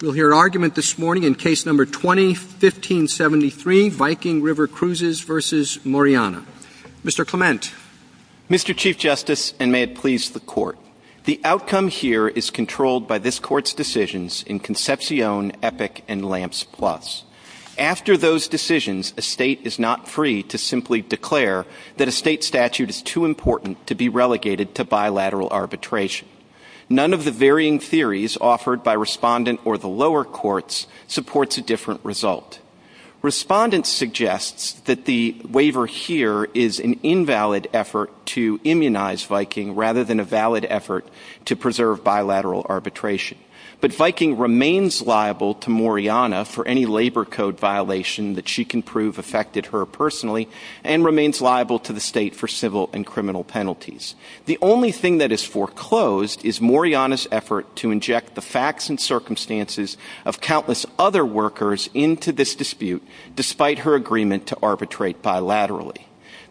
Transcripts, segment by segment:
We'll hear argument this morning in Case No. 20-1573, Viking River Cruises v. Moriana. Mr. Clement. Mr. Chief Justice, and may it please the Court, the outcome here is controlled by this Court's decisions in Concepcion, Epic, and Lamps Plus. After those decisions, a State is not free to simply declare that a State statute is too important to be relegated to bilateral arbitration. None of the varying theories offered by Respondent or the lower courts supports a different result. Respondent suggests that the waiver here is an invalid effort to immunize Viking rather than a valid effort to preserve bilateral arbitration. But Viking remains liable to Moriana for any labor code violation that she can prove affected her personally, and remains liable to the State for civil and criminal penalties. The only thing that is foreclosed is Moriana's effort to inject the facts and circumstances of countless other workers into this dispute, despite her agreement to arbitrate bilaterally.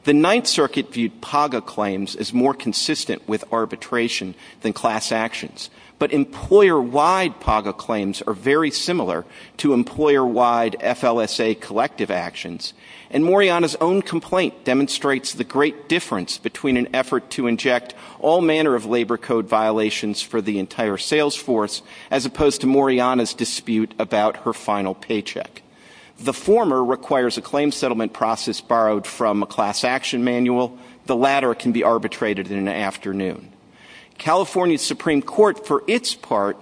The Ninth Circuit viewed PAGA claims as more consistent with arbitration than class actions, but employer-wide PAGA claims are very similar to employer-wide FLSA collective actions, and Moriana's own complaint demonstrates the great difference between an effort to inject all manner of labor code violations for the entire sales force, as opposed to Moriana's dispute about her final paycheck. The former requires a claim settlement process borrowed from a class action manual. The latter can be arbitrated in an afternoon. California's Supreme Court, for its part,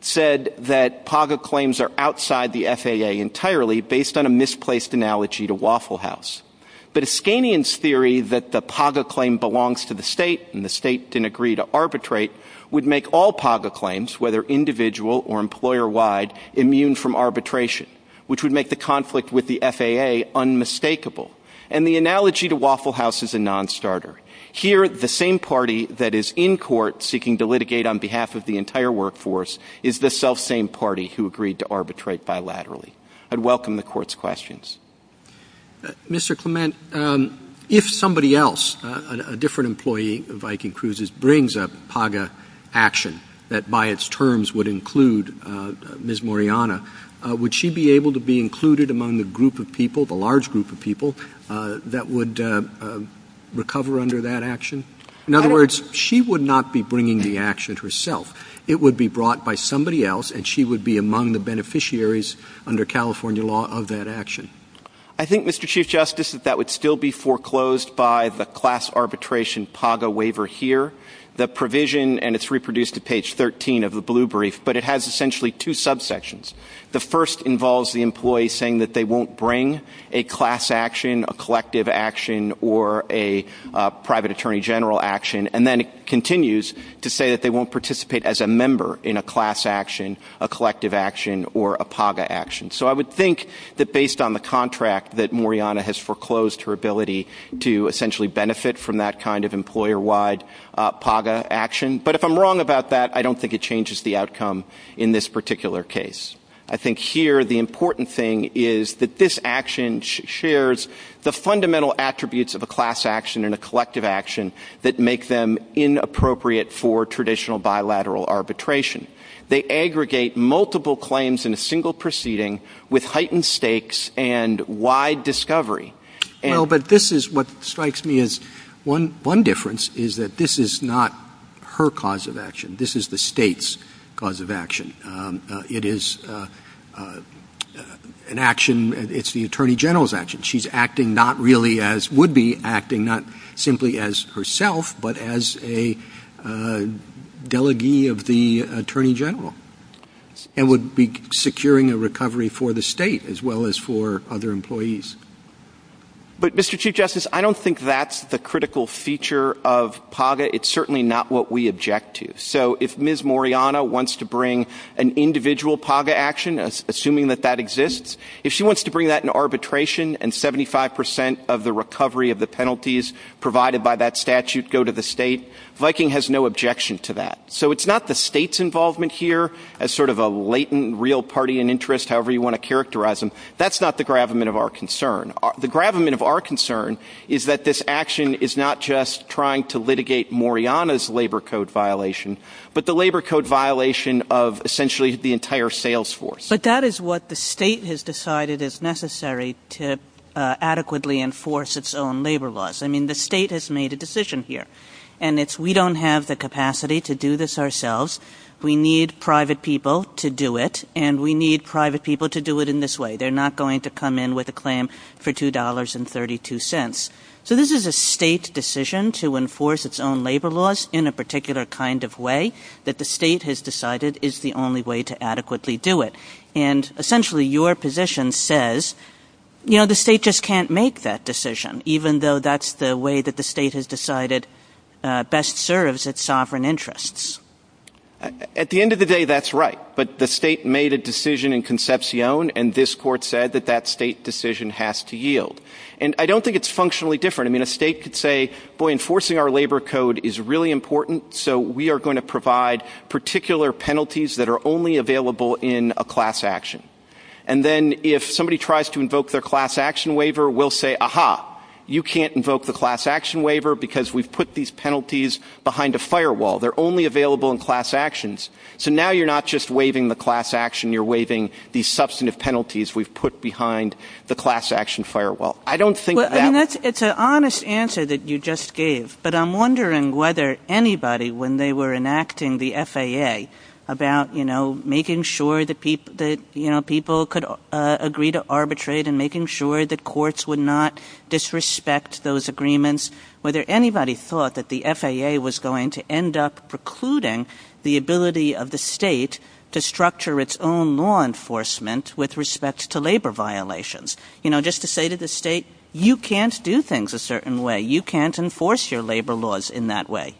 said that PAGA claims are outside the FAA entirely, based on a misplaced analogy to Waffle House. But Iskanian's theory that the PAGA claim belongs to the State, and the State didn't agree to arbitrate, would make all PAGA claims, whether individual or employer-wide, immune from arbitration, which would make the conflict with the FAA unmistakable. And the analogy to Waffle House is a non-starter. Here, the same party that is in court seeking to litigate on behalf of the entire workforce is the self-same party who agreed to arbitrate bilaterally. I'd welcome the Court's questions. Mr. Clement, if somebody else, a different employee of Viking Cruises, brings a PAGA action that by its terms would include Ms. Moriana, would she be able to be included among the group of people, the large group of people, that would recover under that action? In other words, she would not be bringing the action herself. It would be brought by somebody else, and she would be among the beneficiaries under California law of that action. I think, Mr. Chief Justice, that that would still be foreclosed by the class arbitration PAGA waiver here. The provision, and it's reproduced at page 13 of the blue brief, but it has essentially two subsections. The first involves the employee saying that they won't bring a class action, a collective action, or a private attorney general action, and then it continues to say that they won't participate as a member in a class action, a collective action, or a PAGA action. So I would think that based on the contract that Moriana has foreclosed, her ability to essentially benefit from that kind of employer-wide PAGA action. But if I'm wrong about that, I don't think it changes the outcome in this particular case. I think here the important thing is that this action shares the fundamental attributes of a class action and a collective action that make them inappropriate for traditional bilateral arbitration. They aggregate multiple claims in a single proceeding with heightened stakes and wide discovery. Well, but this is what strikes me as one difference is that this is not her cause of action. This is the state's cause of action. It is an action, it's the attorney general's action. She's acting not really as, would be acting not simply as herself, but as a delegee of the attorney general and would be securing a recovery for the state as well as for other employees. But, Mr. Chief Justice, I don't think that's the critical feature of PAGA. It's certainly not what we object to. So if Ms. Moriana wants to bring an individual PAGA action, assuming that that exists, if she wants to bring that in arbitration and 75% of the recovery of the penalties provided by that statute go to the state, Viking has no objection to that. So it's not the state's involvement here as sort of a latent real party in interest, however you want to characterize them. That's not the gravamen of our concern. The gravamen of our concern is that this action is not just trying to litigate Moriana's labor code violation, but the labor code violation of essentially the entire sales force. But that is what the state has decided is necessary to adequately enforce its own labor laws. I mean, the state has made a decision here. And it's we don't have the capacity to do this ourselves. We need private people to do it, and we need private people to do it in this way. They're not going to come in with a claim for $2.32. So this is a state decision to enforce its own labor laws in a particular kind of way that the state has decided is the only way to adequately do it. And essentially your position says, you know, the state just can't make that decision, even though that's the way that the state has decided best serves its sovereign interests. At the end of the day, that's right. But the state made a decision in Concepcion, and this court said that that state decision has to yield. And I don't think it's functionally different. I mean, a state could say, boy, enforcing our labor code is really important, so we are going to provide particular penalties that are only available in a class action. And then if somebody tries to invoke their class action waiver, we'll say, ah-ha, you can't invoke the class action waiver because we've put these penalties behind a firewall. They're only available in class actions. So now you're not just waiving the class action. You're waiving the substantive penalties we've put behind the class action firewall. I don't think that — It's an honest answer that you just gave, but I'm wondering whether anybody, when they were enacting the FAA about, you know, making sure that people could agree to arbitrate and making sure that courts would not disrespect those agreements, whether anybody thought that the FAA was going to end up precluding the ability of the state to structure its own law enforcement with respect to labor violations. You know, just to say to the state, you can't do things a certain way. You can't enforce your labor laws in that way.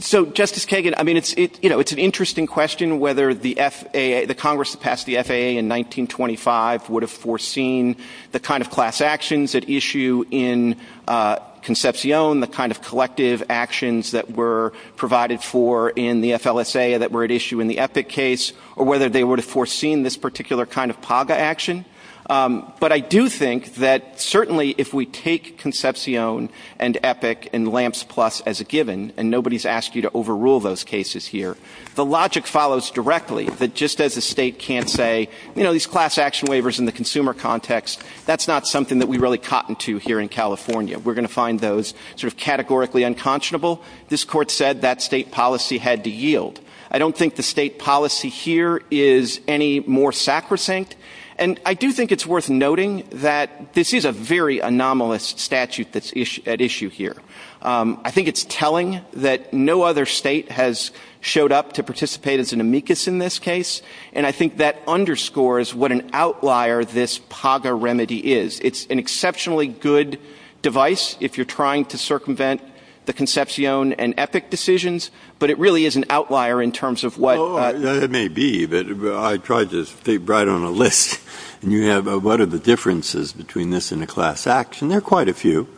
So, Justice Kagan, I mean, it's an interesting question whether the FAA — the Congress that passed the FAA in 1925 would have foreseen the kind of class actions at issue in Concepcion, the kind of collective actions that were provided for in the FLSA that were at issue in the Epic case, or whether they would have foreseen this particular kind of PAGA action. But I do think that certainly if we take Concepcion and Epic and LAMPS Plus as a given, and nobody's asked you to overrule those cases here, the logic follows directly that just as the state can't say, you know, these class action waivers in the consumer context, that's not something that we really cotton to here in California. We're going to find those sort of categorically unconscionable. This Court said that state policy had to yield. I don't think the state policy here is any more sacrosanct. And I do think it's worth noting that this is a very anomalous statute that's at issue here. I think it's telling that no other state has showed up to participate as an amicus in this case, and I think that underscores what an outlier this PAGA remedy is. It's an exceptionally good device if you're trying to circumvent the Concepcion and Epic decisions, but it really is an outlier in terms of what- It may be, but I tried to write on a list, and you have what are the differences between this and a class action. There are quite a few.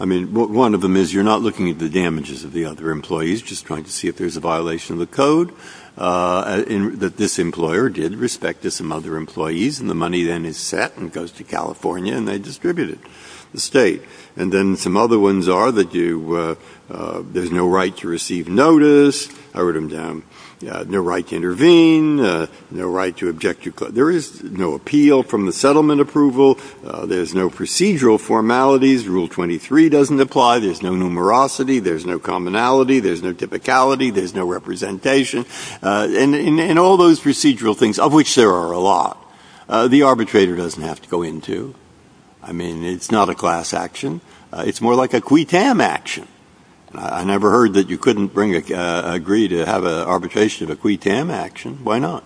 I mean, one of them is you're not looking at the damages of the other employees, just trying to see if there's a violation of the code. This employer did respect some other employees, and the money then is set and goes to California, and they distribute it to the state. And then some other ones are that there's no right to receive notice. I wrote them down. No right to intervene. No right to object to- There is no appeal from the settlement approval. There's no procedural formalities. Rule 23 doesn't apply. There's no numerosity. There's no commonality. There's no typicality. There's no representation. And all those procedural things, of which there are a lot, the arbitrator doesn't have to go into. I mean, it's not a class action. It's more like a qui tam action. I never heard that you couldn't agree to have an arbitration of a qui tam action. Why not?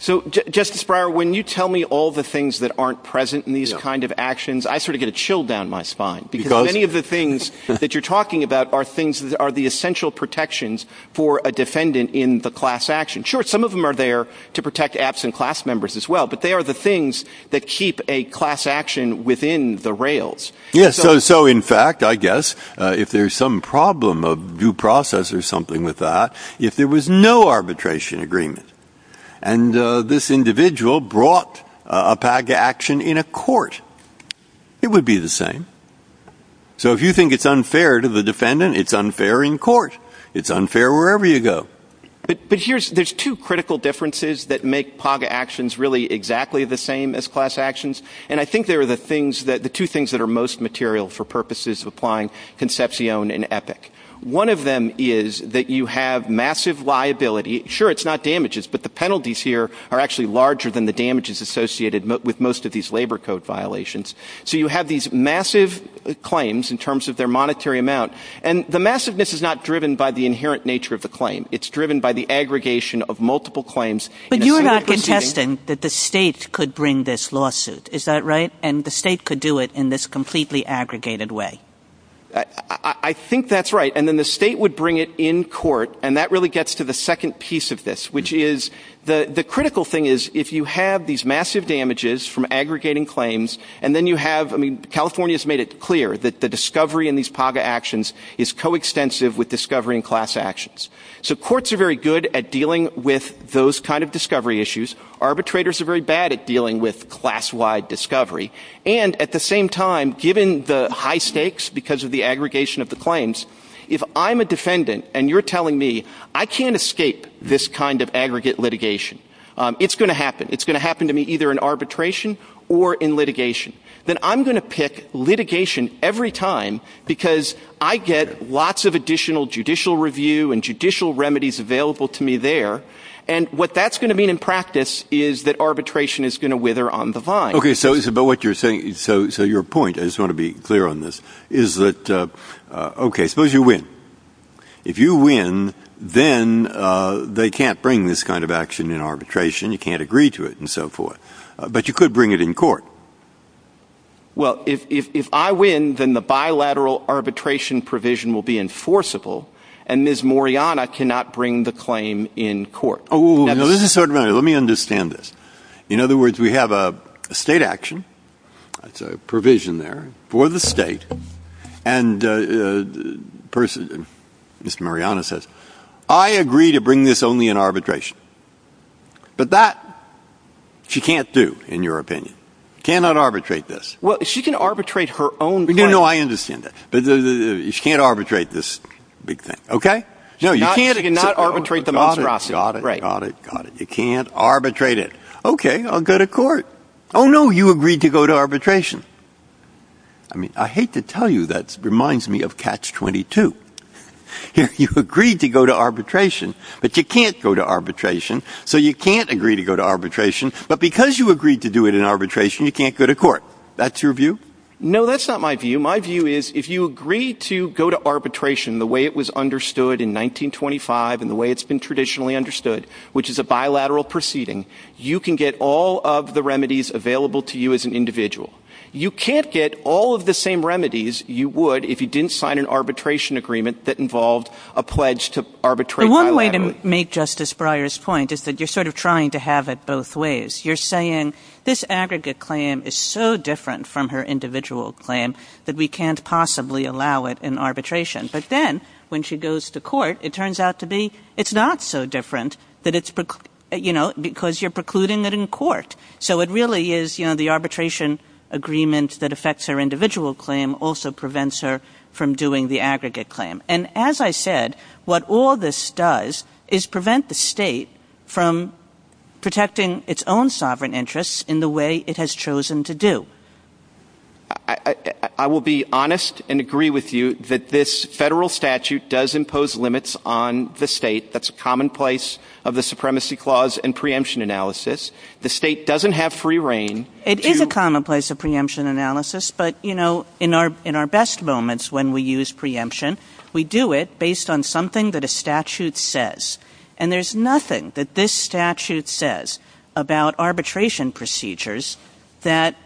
So, Justice Breyer, when you tell me all the things that aren't present in these kind of actions, I sort of get a chill down my spine, because many of the things that you're talking about are the essential protections for a defendant in the class action. Sure, some of them are there to protect absent class members as well, but they are the things that keep a class action within the rails. Yes, so in fact, I guess, if there's some problem of due process or something with that, if there was no arbitration agreement and this individual brought a paga action in a court, it would be the same. So if you think it's unfair to the defendant, it's unfair in court. It's unfair wherever you go. But there's two critical differences that make paga actions really exactly the same as class actions, and I think they are the two things that are most material for purposes of applying concepcion and epoch. One of them is that you have massive liability. Sure, it's not damages, but the penalties here are actually larger than the damages associated with most of these labor code violations. So you have these massive claims in terms of their monetary amount, and the massiveness is not driven by the inherent nature of the claim. It's driven by the aggregation of multiple claims. But you are not contesting that the state could bring this lawsuit. Is that right? And the state could do it in this completely aggregated way. I think that's right. And then the state would bring it in court, and that really gets to the second piece of this, which is the critical thing is if you have these massive damages from aggregating claims, and then you have, I mean, California has made it clear that the discovery in these paga actions is coextensive with discovery in class actions. So courts are very good at dealing with those kind of discovery issues. Arbitrators are very bad at dealing with class-wide discovery. And at the same time, given the high stakes because of the aggregation of the claims, if I'm a defendant and you're telling me I can't escape this kind of aggregate litigation, it's going to happen. It's going to happen to me either in arbitration or in litigation. Then I'm going to pick litigation every time because I get lots of additional judicial review and judicial remedies available to me there. And what that's going to mean in practice is that arbitration is going to wither on the vine. Okay, so it's about what you're saying. So your point, I just want to be clear on this, is that, okay, suppose you win. If you win, then they can't bring this kind of action in arbitration. You can't agree to it and so forth. But you could bring it in court. Well, if I win, then the bilateral arbitration provision will be enforceable. And Ms. Mariana cannot bring the claim in court. Oh, let me understand this. In other words, we have a state action. It's a provision there for the state. And Mr. Mariana says, I agree to bring this only in arbitration. But that she can't do, in your opinion. Cannot arbitrate this. Well, she can arbitrate her own claim. No, I understand that. She can't arbitrate this big thing, okay? She cannot arbitrate the monstrosity. Got it, got it, got it. You can't arbitrate it. Okay, I'll go to court. Oh, no, you agreed to go to arbitration. I mean, I hate to tell you that reminds me of Catch-22. You agreed to go to arbitration, but you can't go to arbitration. So you can't agree to go to arbitration. But because you agreed to do it in arbitration, you can't go to court. That's your view? No, that's not my view. My view is, if you agree to go to arbitration the way it was understood in 1925, and the way it's been traditionally understood, which is a bilateral proceeding, you can get all of the remedies available to you as an individual. You can't get all of the same remedies you would if you didn't sign an arbitration agreement that involved a pledge to arbitrate bilaterally. The one way to make Justice Breyer's point is that you're sort of trying to have it both ways. You're saying this aggregate claim is so different from her individual claim that we can't possibly allow it in arbitration. But then when she goes to court, it turns out to be it's not so different because you're precluding it in court. So it really is the arbitration agreement that affects her individual claim also prevents her from doing the aggregate claim. And as I said, what all this does is prevent the state from protecting its own sovereign interests in the way it has chosen to do. I will be honest and agree with you that this federal statute does impose limits on the state. That's commonplace of the Supremacy Clause and preemption analysis. The state doesn't have free reign. It is a commonplace of preemption analysis, but in our best moments when we use preemption, we do it based on something that a statute says. And there's nothing that this statute says about arbitration procedures that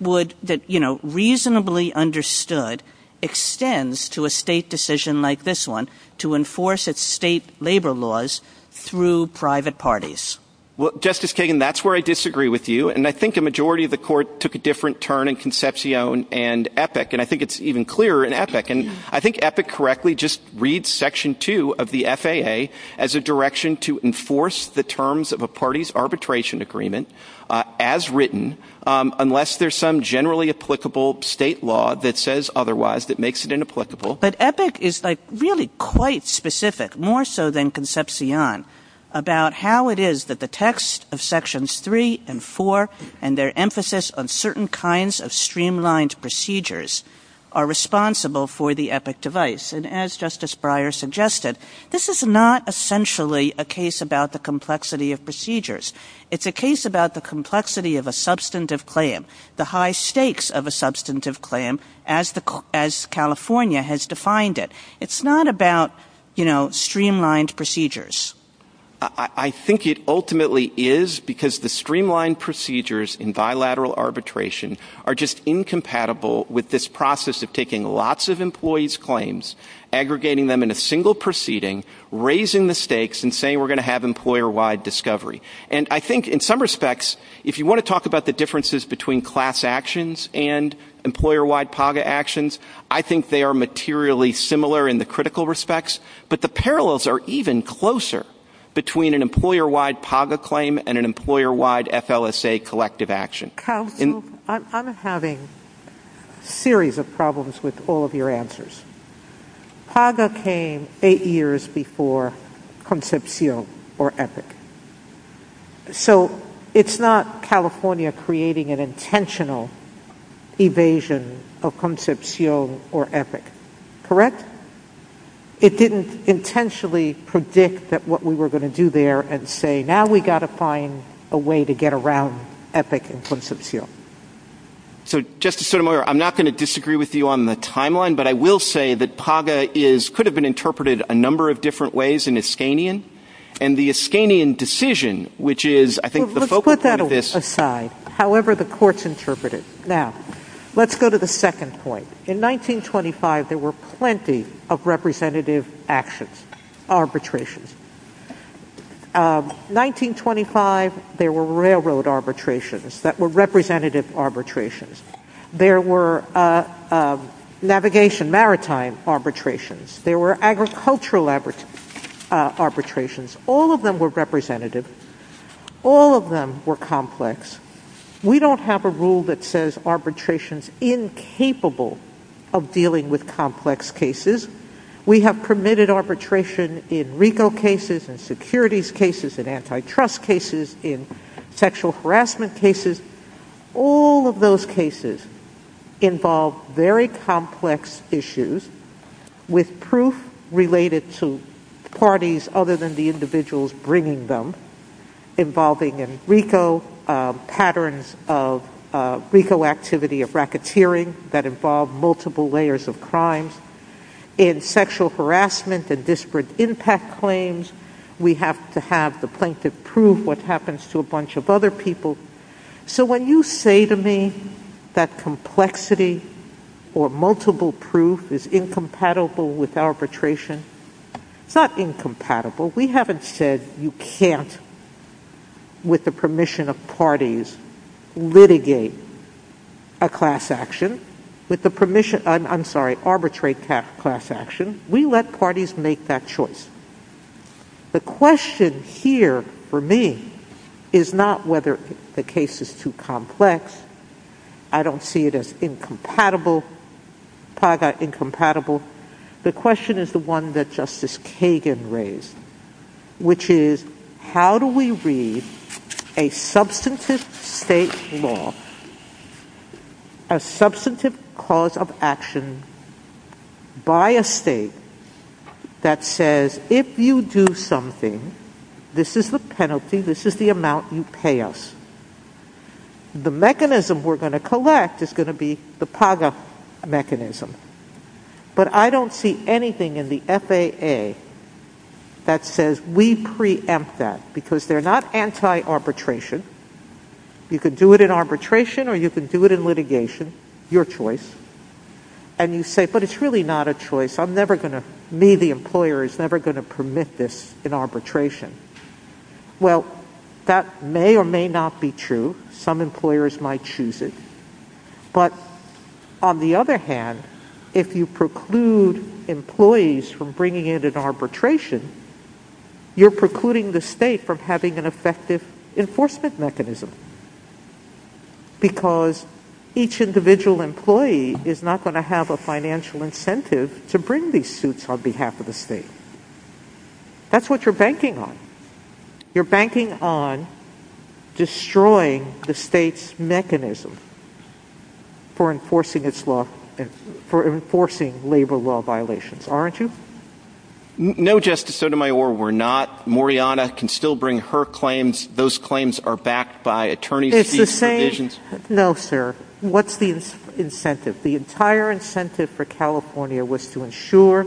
reasonably understood extends to a state decision like this one to enforce its state labor laws through private parties. Justice Kagan, that's where I disagree with you. And I think the majority of the court took a different turn in Concepcion and Epic. And I think it's even clearer in Epic. And I think Epic correctly just reads Section 2 of the FAA as a direction to enforce the terms of a party's arbitration agreement as written unless there's some generally applicable state law that says otherwise that makes it inapplicable. But Epic is like really quite specific, more so than Concepcion, about how it is that the text of Sections 3 and 4 and their emphasis on certain kinds of streamlined procedures are responsible for the Epic device. And as Justice Breyer suggested, this is not essentially a case about the complexity of procedures. It's a case about the complexity of a substantive claim, the high stakes of a substantive claim as California has defined it. It's not about streamlined procedures. I think it ultimately is because the streamlined procedures in bilateral arbitration are just incompatible with this process of taking lots of employees' claims, aggregating them in a single proceeding, raising the stakes and saying we're going to have employer-wide discovery. And I think in some respects, if you want to talk about the differences between class actions and employer-wide PAGA actions, I think they are materially similar in the critical respects, but the parallels are even closer between an employer-wide PAGA claim and an employer-wide FLSA collective action. I'm having a series of problems with all of your answers. PAGA came eight years before Concepcion or Epic. So it's not California creating an intentional evasion of Concepcion or Epic, correct? It didn't intentionally predict that what we were going to do there and say now we've got to find a way to get around Epic and Concepcion. So, Justice Sotomayor, I'm not going to disagree with you on the timeline, but I will say that PAGA could have been interpreted a number of different ways in Iskanian, and the Iskanian decision, which is, I think, the focal point of this. Let's put that aside, however the courts interpret it. Now, let's go to the second point. In 1925, there were plenty of representative actions, arbitrations. 1925, there were railroad arbitrations that were representative arbitrations. There were navigation maritime arbitrations. There were agricultural arbitrations. All of them were representative. All of them were complex. We don't have a rule that says arbitration is incapable of dealing with complex cases. We have permitted arbitration in RICO cases, in securities cases, in antitrust cases, in sexual harassment cases. All of those cases involve very complex issues with proof related to parties other than the individuals bringing them, involving in RICO patterns of RICO activity of racketeering that involve multiple layers of crimes. In sexual harassment and disparate impact claims, we have to have the plaintiff prove what happens to a bunch of other people. So when you say to me that complexity or multiple proof is incompatible with arbitration, it's not incompatible. We haven't said you can't, with the permission of parties, litigate a class action, with the permission, I'm sorry, arbitrate a class action. We let parties make that choice. The question here for me is not whether the case is too complex. I don't see it as incompatible. The question is the one that Justice Kagan raised, which is how do we read a substantive state law, a substantive cause of action by a state that says, if you do something, this is the penalty, this is the amount you pay us. The mechanism we're going to collect is going to be the PAGA mechanism. But I don't see anything in the FAA that says we preempt that, because they're not anti-arbitration. You can do it in arbitration or you can do it in litigation, your choice. And you say, but it's really not a choice. I'm never going to, me, the employer, is never going to permit this in arbitration. Well, that may or may not be true. Some employers might choose it. But on the other hand, if you preclude employees from bringing it in arbitration, you're precluding the state from having an effective enforcement mechanism, because each individual employee is not going to have a financial incentive to bring these suits on behalf of the state. That's what you're banking on. You're banking on destroying the state's mechanism for enforcing labor law violations, aren't you? No, Justice Sotomayor, we're not. Moriarty can still bring her claims. Those claims are backed by attorney's fees provisions. No, sir. What's the incentive? The entire incentive for California was to ensure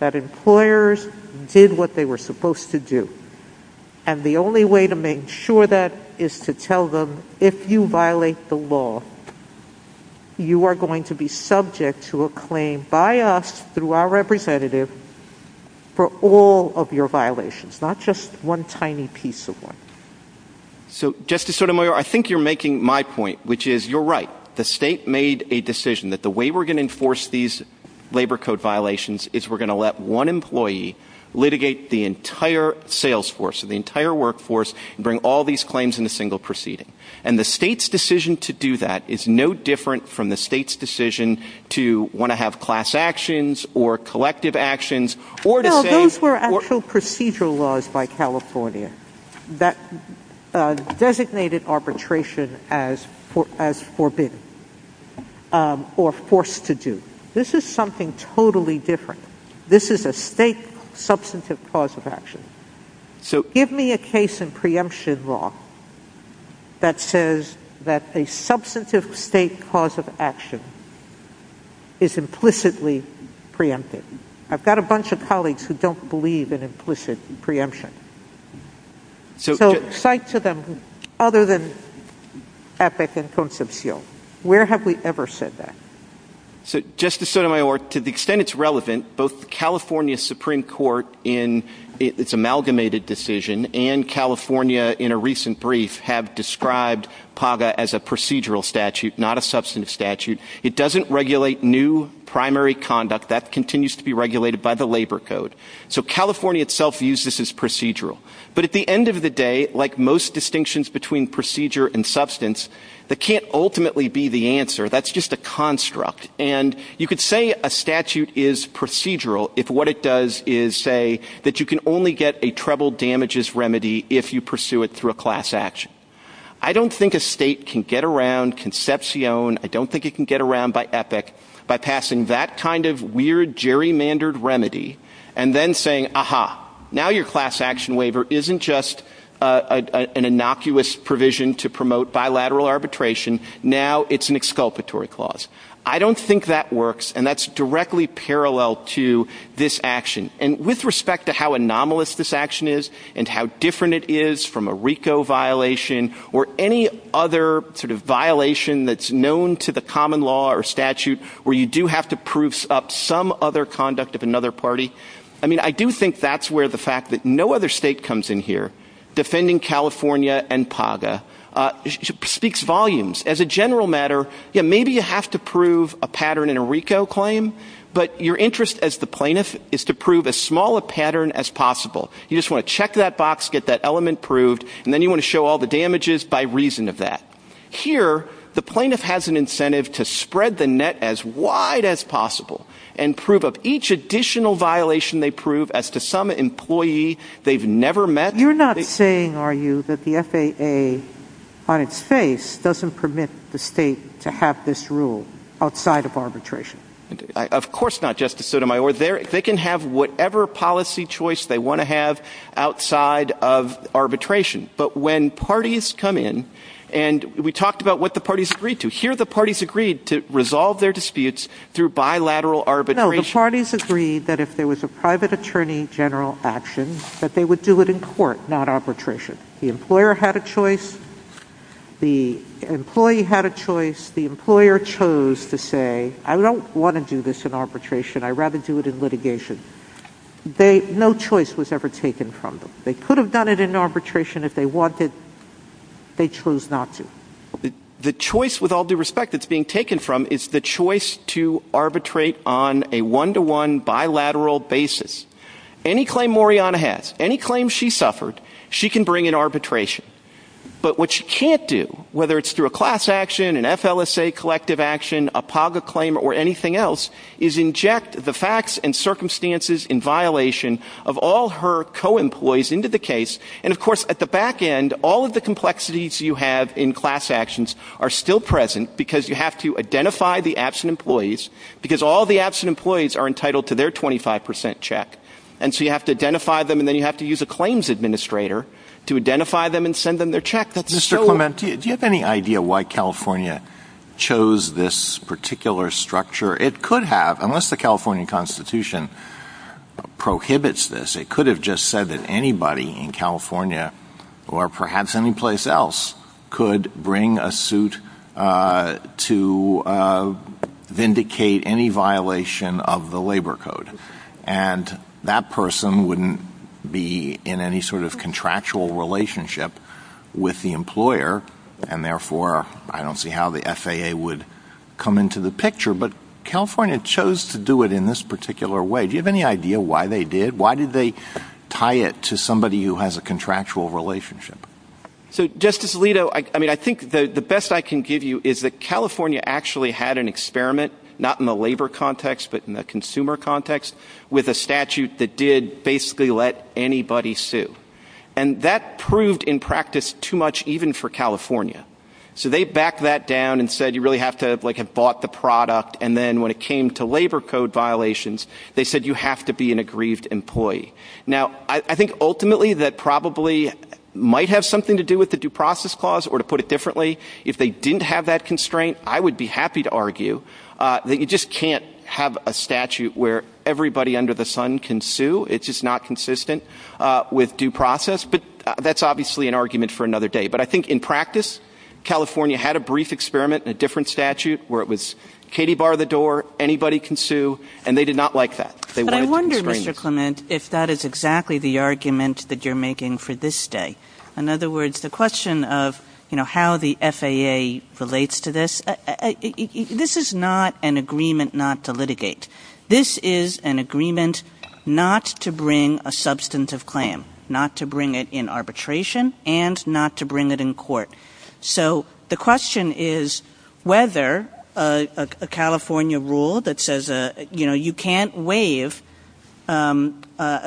that employers did what they were supposed to do. And the only way to make sure that is to tell them, if you violate the law, you are going to be subject to a claim by us, through our representative, for all of your violations, not just one tiny piece of one. So, Justice Sotomayor, I think you're making my point, which is you're right. The state made a decision that the way we're going to enforce these labor code violations is we're going to let one employee litigate the entire sales force, the entire workforce, and bring all these claims in a single proceeding. And the state's decision to do that is no different from the state's decision to want to have class actions or collective actions or to say... or forced to do. This is something totally different. This is a state substantive cause of action. Give me a case in preemption law that says that a substantive state cause of action is implicitly preempted. I've got a bunch of colleagues who don't believe in implicit preemption. So, cite to them other than Epic and Constance Hill. Where have we ever said that? So, Justice Sotomayor, to the extent it's relevant, both the California Supreme Court in its amalgamated decision and California in a recent brief have described PAGA as a procedural statute, not a substantive statute. It doesn't regulate new primary conduct. That continues to be regulated by the labor code. So, California itself uses this as procedural. But at the end of the day, like most distinctions between procedure and substance, that can't ultimately be the answer. That's just a construct. And you could say a statute is procedural if what it does is say that you can only get a treble damages remedy if you pursue it through a class action. I don't think a state can get around Concepcion. I don't think it can get around by Epic by passing that kind of weird gerrymandered remedy and then saying, aha, now your class action waiver isn't just an innocuous provision to promote bilateral arbitration. Now it's an exculpatory clause. I don't think that works. And that's directly parallel to this action. And with respect to how anomalous this action is and how different it is from a RICO violation or any other sort of violation that's known to the common law or statute where you do have to proofs up some other conduct of another party, I do think that's where the fact that no other state comes in here defending California and PAGA speaks volumes. As a general matter, maybe you have to prove a pattern in a RICO claim, but your interest as the plaintiff is to prove as small a pattern as possible. You just want to check that box, get that element proved, and then you want to show all the damages by reason of that. Here, the plaintiff has an incentive to spread the net as wide as possible and prove of each additional violation they prove as to some employee they've never met. You're not saying, are you, that the FAA on its face doesn't permit the state to have this rule outside of arbitration? Of course not, Justice Sotomayor. They can have whatever policy choice they want to have outside of arbitration. But when parties come in, and we talked about what the parties agreed to. Here, the parties agreed to resolve their disputes through bilateral arbitration. No, the parties agreed that if there was a private attorney general action, that they would do it in court, not arbitration. The employer had a choice, the employee had a choice, the employer chose to say, I don't want to do this in arbitration, I'd rather do it in litigation. No choice was ever taken from them. They could have done it in arbitration if they wanted. They chose not to. The choice, with all due respect, that's being taken from is the choice to arbitrate on a one-to-one bilateral basis. Any claim Moriana has, any claim she suffered, she can bring in arbitration. But what she can't do, whether it's through a class action, an FLSA collective action, a PAGA claim, or anything else, is inject the facts and circumstances in violation of all her co-employees into the case. And, of course, at the back end, all of the complexities you have in class actions are still present, because you have to identify the absent employees, because all the absent employees are entitled to their 25% check. And so you have to identify them, and then you have to use a claims administrator to identify them and send them their check. Do you have any idea why California chose this particular structure? It could have, unless the California Constitution prohibits this. It could have just said that anybody in California, or perhaps any place else, could bring a suit to vindicate any violation of the labor code. And that person wouldn't be in any sort of contractual relationship with the employer, and therefore I don't see how the FAA would come into the picture. But California chose to do it in this particular way. Do you have any idea why they did? Why did they tie it to somebody who has a contractual relationship? So, Justice Alito, I think the best I can give you is that California actually had an experiment, not in the labor context, but in the consumer context, with a statute that did basically let anybody sue. And that proved, in practice, too much, even for California. So they backed that down and said you really have to have bought the product, and then when it came to labor code violations, they said you have to be an aggrieved employee. Now, I think ultimately that probably might have something to do with the due process clause, or to put it differently, if they didn't have that constraint, I would be happy to argue that you just can't have a statute where everybody under the sun can sue. It's just not consistent with due process. But that's obviously an argument for another day. But I think in practice, California had a brief experiment, a different statute, where it was Katie, bar the door, anybody can sue, and they did not like that. But I wonder, Mr. Clement, if that is exactly the argument that you're making for this day. In other words, the question of how the FAA relates to this, this is not an agreement not to litigate. This is an agreement not to bring a substantive claim, not to bring it in arbitration, and not to bring it in court. So the question is whether a California rule that says you can't waive a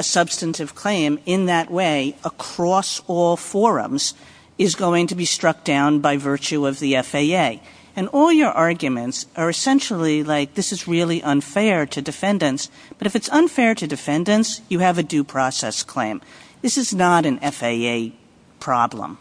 substantive claim in that way across all forums is going to be struck down by virtue of the FAA. And all your arguments are essentially like this is really unfair to defendants, but if it's unfair to defendants, you have a due process claim. This is not an FAA problem.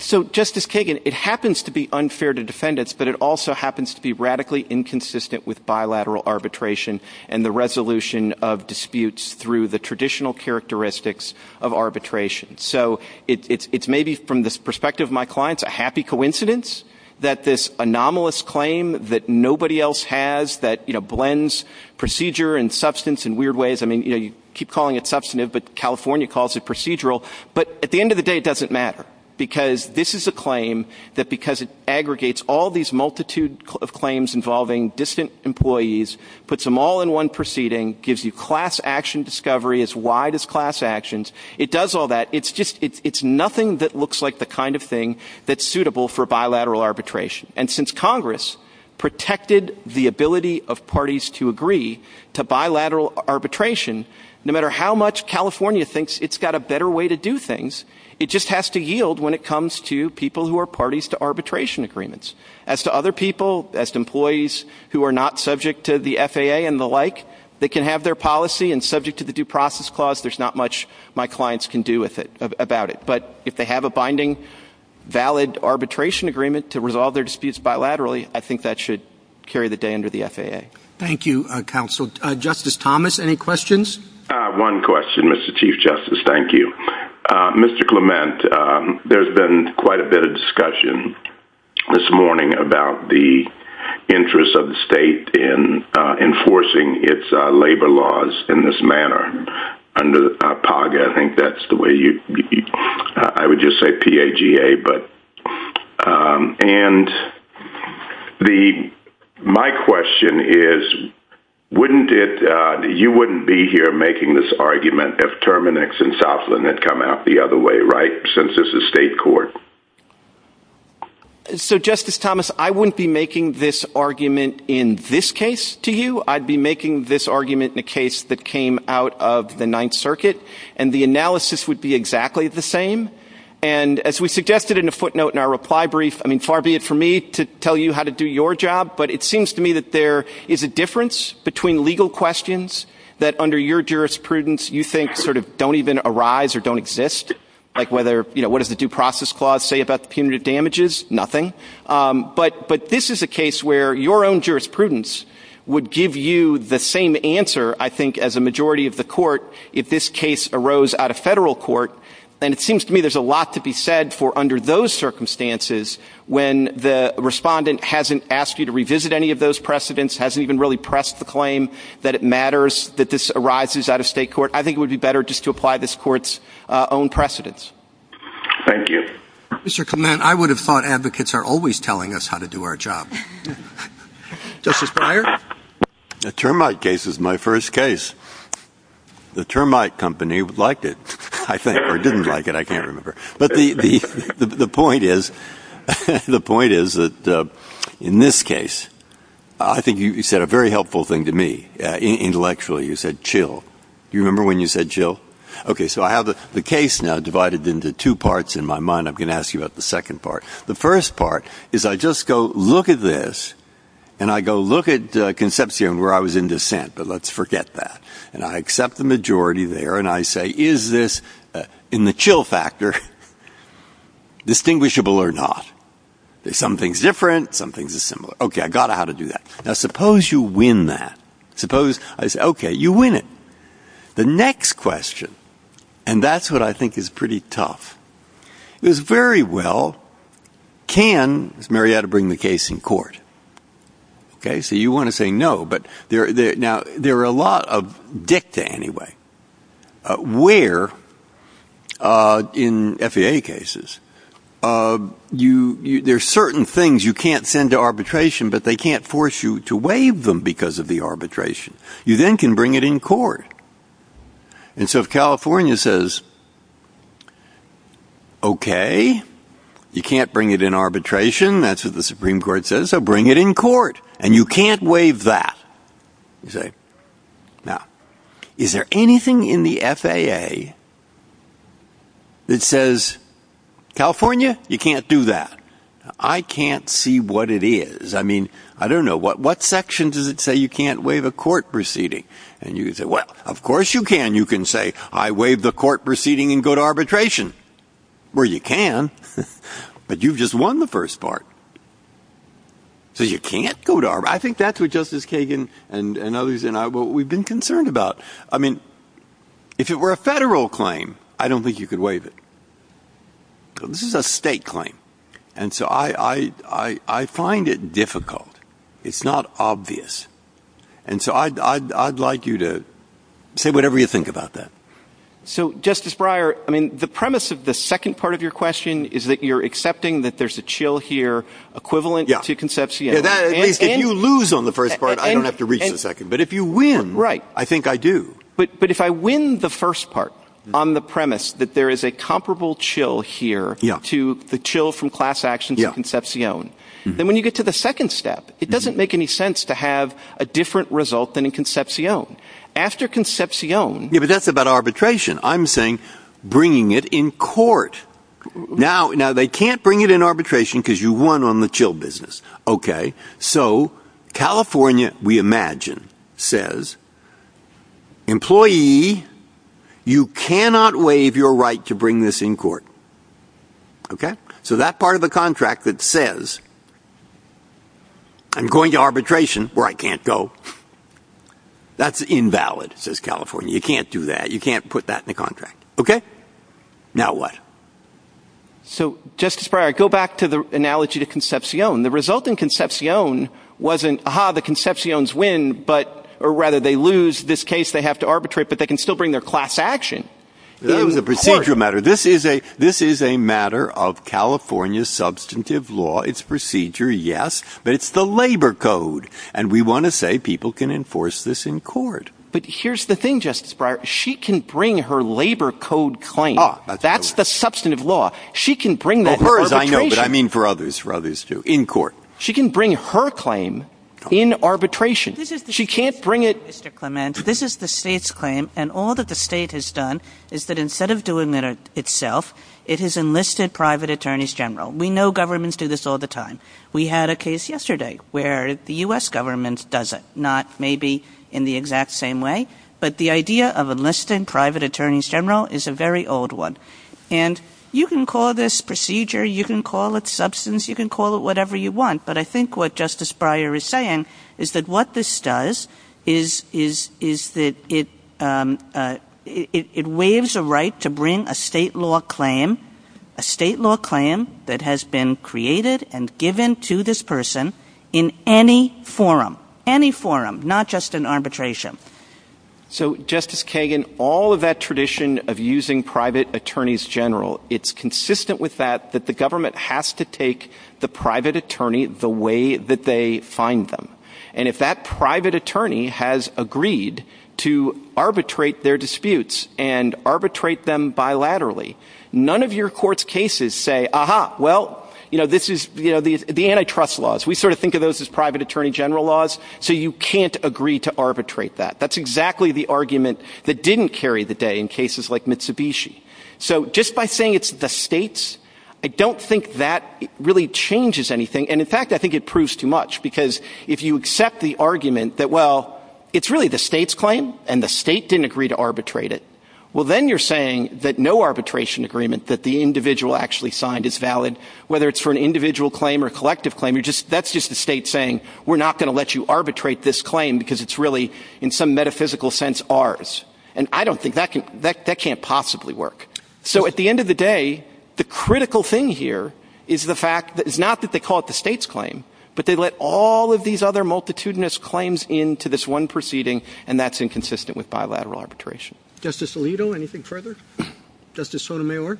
So Justice Kagan, it happens to be unfair to defendants, but it also happens to be radically inconsistent with bilateral arbitration and the resolution of disputes through the traditional characteristics of arbitration. So it's maybe from the perspective of my clients a happy coincidence that this anomalous claim that nobody else has that blends procedure and substance in weird ways. I mean, you keep calling it substantive, but California calls it procedural. But at the end of the day, it doesn't matter because this is a claim that because it aggregates all these multitude of claims involving distant employees, puts them all in one proceeding, gives you class action discovery as wide as class actions, it does all that. It's nothing that looks like the kind of thing that's suitable for bilateral arbitration. And since Congress protected the ability of parties to agree to bilateral arbitration, no matter how much California thinks it's got a better way to do things, it just has to yield when it comes to people who are parties to arbitration agreements. As to other people, as to employees who are not subject to the FAA and the like, they can have their policy and subject to the due process clause, there's not much my clients can do about it. But if they have a binding, valid arbitration agreement to resolve their disputes bilaterally, I think that should carry the day under the FAA. Thank you, counsel. Justice Thomas, any questions? One question, Mr. Chief Justice. Thank you. Mr. Clement, there's been quite a bit of discussion this morning about the interest of the state in enforcing its labor laws in this manner. Under PAGA, I think that's the way you—I would just say P-A-G-A, but— and my question is, wouldn't it—you wouldn't be here making this argument if Terminex and Southland had come out the other way, right, since this is state court? So, Justice Thomas, I wouldn't be making this argument in this case to you. I'd be making this argument in a case that came out of the Ninth Circuit, and the analysis would be exactly the same. And as we suggested in a footnote in our reply brief, I mean, far be it for me to tell you how to do your job, but it seems to me that there is a difference between legal questions that, under your jurisprudence, you think sort of don't even arise or don't exist, like whether—you know, what does the due process clause say about punitive damages? Nothing. But this is a case where your own jurisprudence would give you the same answer, I think, as a majority of the court if this case arose out of federal court. And it seems to me there's a lot to be said for under those circumstances when the respondent hasn't asked you to revisit any of those precedents, hasn't even really pressed the claim that it matters that this arises out of state court. I think it would be better just to apply this court's own precedents. Thank you. Mr. Clement, I would have thought advocates are always telling us how to do our job. Justice Breyer? The termite case was my first case. The termite company liked it, I think, or didn't like it, I can't remember. But the point is that, in this case, I think you said a very helpful thing to me. Intellectually, you said, chill. Do you remember when you said chill? Okay, so I have the case now divided into two parts in my mind. I'm going to ask you about the second part. The first part is I just go, look at this, and I go, look at the conception where I was in dissent, but let's forget that. And I accept the majority there, and I say, is this, in the chill factor, distinguishable or not? Some things are different, some things are similar. Okay, I got how to do that. Now, suppose you win that. Suppose I say, okay, you win it. The next question, and that's what I think is pretty tough, is very well, can Marietta bring the case in court? Okay, so you want to say no, but there are a lot of dicta anyway. Where, in FAA cases, there are certain things you can't send to arbitration, but they can't force you to waive them because of the arbitration. You then can bring it in court. And so if California says, okay, you can't bring it in arbitration, that's what the Supreme Court says, so bring it in court, and you can't waive that. Now, is there anything in the FAA that says, California, you can't do that? I can't see what it is. I mean, I don't know, what section does it say you can't waive a court proceeding? And you can say, well, of course you can. You can say, I waive the court proceeding and go to arbitration. Well, you can, but you've just won the first part, so you can't go to arbitration. I think that's what Justice Kagan and others and I, what we've been concerned about. I mean, if it were a federal claim, I don't think you could waive it. This is a state claim. And so I find it difficult. It's not obvious. And so I'd like you to say whatever you think about that. So, Justice Breyer, I mean, the premise of the second part of your question is that you're accepting that there's a chill here equivalent to conception. If you lose on the first part, I don't have to reach the second. But if you win, I think I do. But if I win the first part on the premise that there is a comparable chill here to the chill from class action to conception, then when you get to the second step, it doesn't make any sense to have a different result than in conception. After conception. But that's about arbitration. I'm saying bringing it in court. Now, they can't bring it in arbitration because you won on the chill business. Okay. So, California, we imagine, says, employee, you cannot waive your right to bring this in court. Okay. So that part of the contract that says I'm going to arbitration where I can't go, that's invalid, says California. You can't do that. You can't put that in the contract. Okay. Now what? So, Justice Breyer, go back to the analogy to conception. The result in conception wasn't, aha, the conceptions win, or rather they lose this case, they have to arbitrate, but they can still bring their class action in court. This is a matter of California's substantive law. It's procedure, yes, but it's the labor code. And we want to say people can enforce this in court. But here's the thing, Justice Breyer. She can bring her labor code claim. That's the substantive law. She can bring that arbitration. But I mean for others, for others too, in court. She can bring her claim in arbitration. She can't bring it. Mr. Clement, this is the state's claim, and all that the state has done is that instead of doing it itself, it has enlisted private attorneys general. We know governments do this all the time. We had a case yesterday where the U.S. government does it, not maybe in the exact same way, but the idea of enlisted private attorneys general is a very old one. And you can call this procedure, you can call it substance, you can call it whatever you want, but I think what Justice Breyer is saying is that what this does is that it waives a right to bring a state law claim, a state law claim that has been created and given to this person in any forum, any forum, not just in arbitration. So Justice Kagan, all of that tradition of using private attorneys general, it's consistent with that that the government has to take the private attorney the way that they find them. And if that private attorney has agreed to arbitrate their disputes and arbitrate them bilaterally, none of your court's cases say, aha, well, this is the antitrust laws. We sort of think of those as private attorney general laws, so you can't agree to arbitrate that. That's exactly the argument that didn't carry the day in cases like Mitsubishi. So just by saying it's the states, I don't think that really changes anything. And in fact, I think it proves too much, because if you accept the argument that, well, it's really the state's claim and the state didn't agree to arbitrate it, well, then you're saying that no arbitration agreement that the individual actually signed is valid. Whether it's for an individual claim or collective claim, that's just the state saying, we're not going to let you arbitrate this claim because it's really, in some metaphysical sense, ours. And I don't think that can possibly work. So at the end of the day, the critical thing here is the fact that it's not that they call it the state's claim, but they let all of these other multitudinous claims into this one proceeding, and that's inconsistent with bilateral arbitration. Justice Alito, anything further? Justice Sotomayor?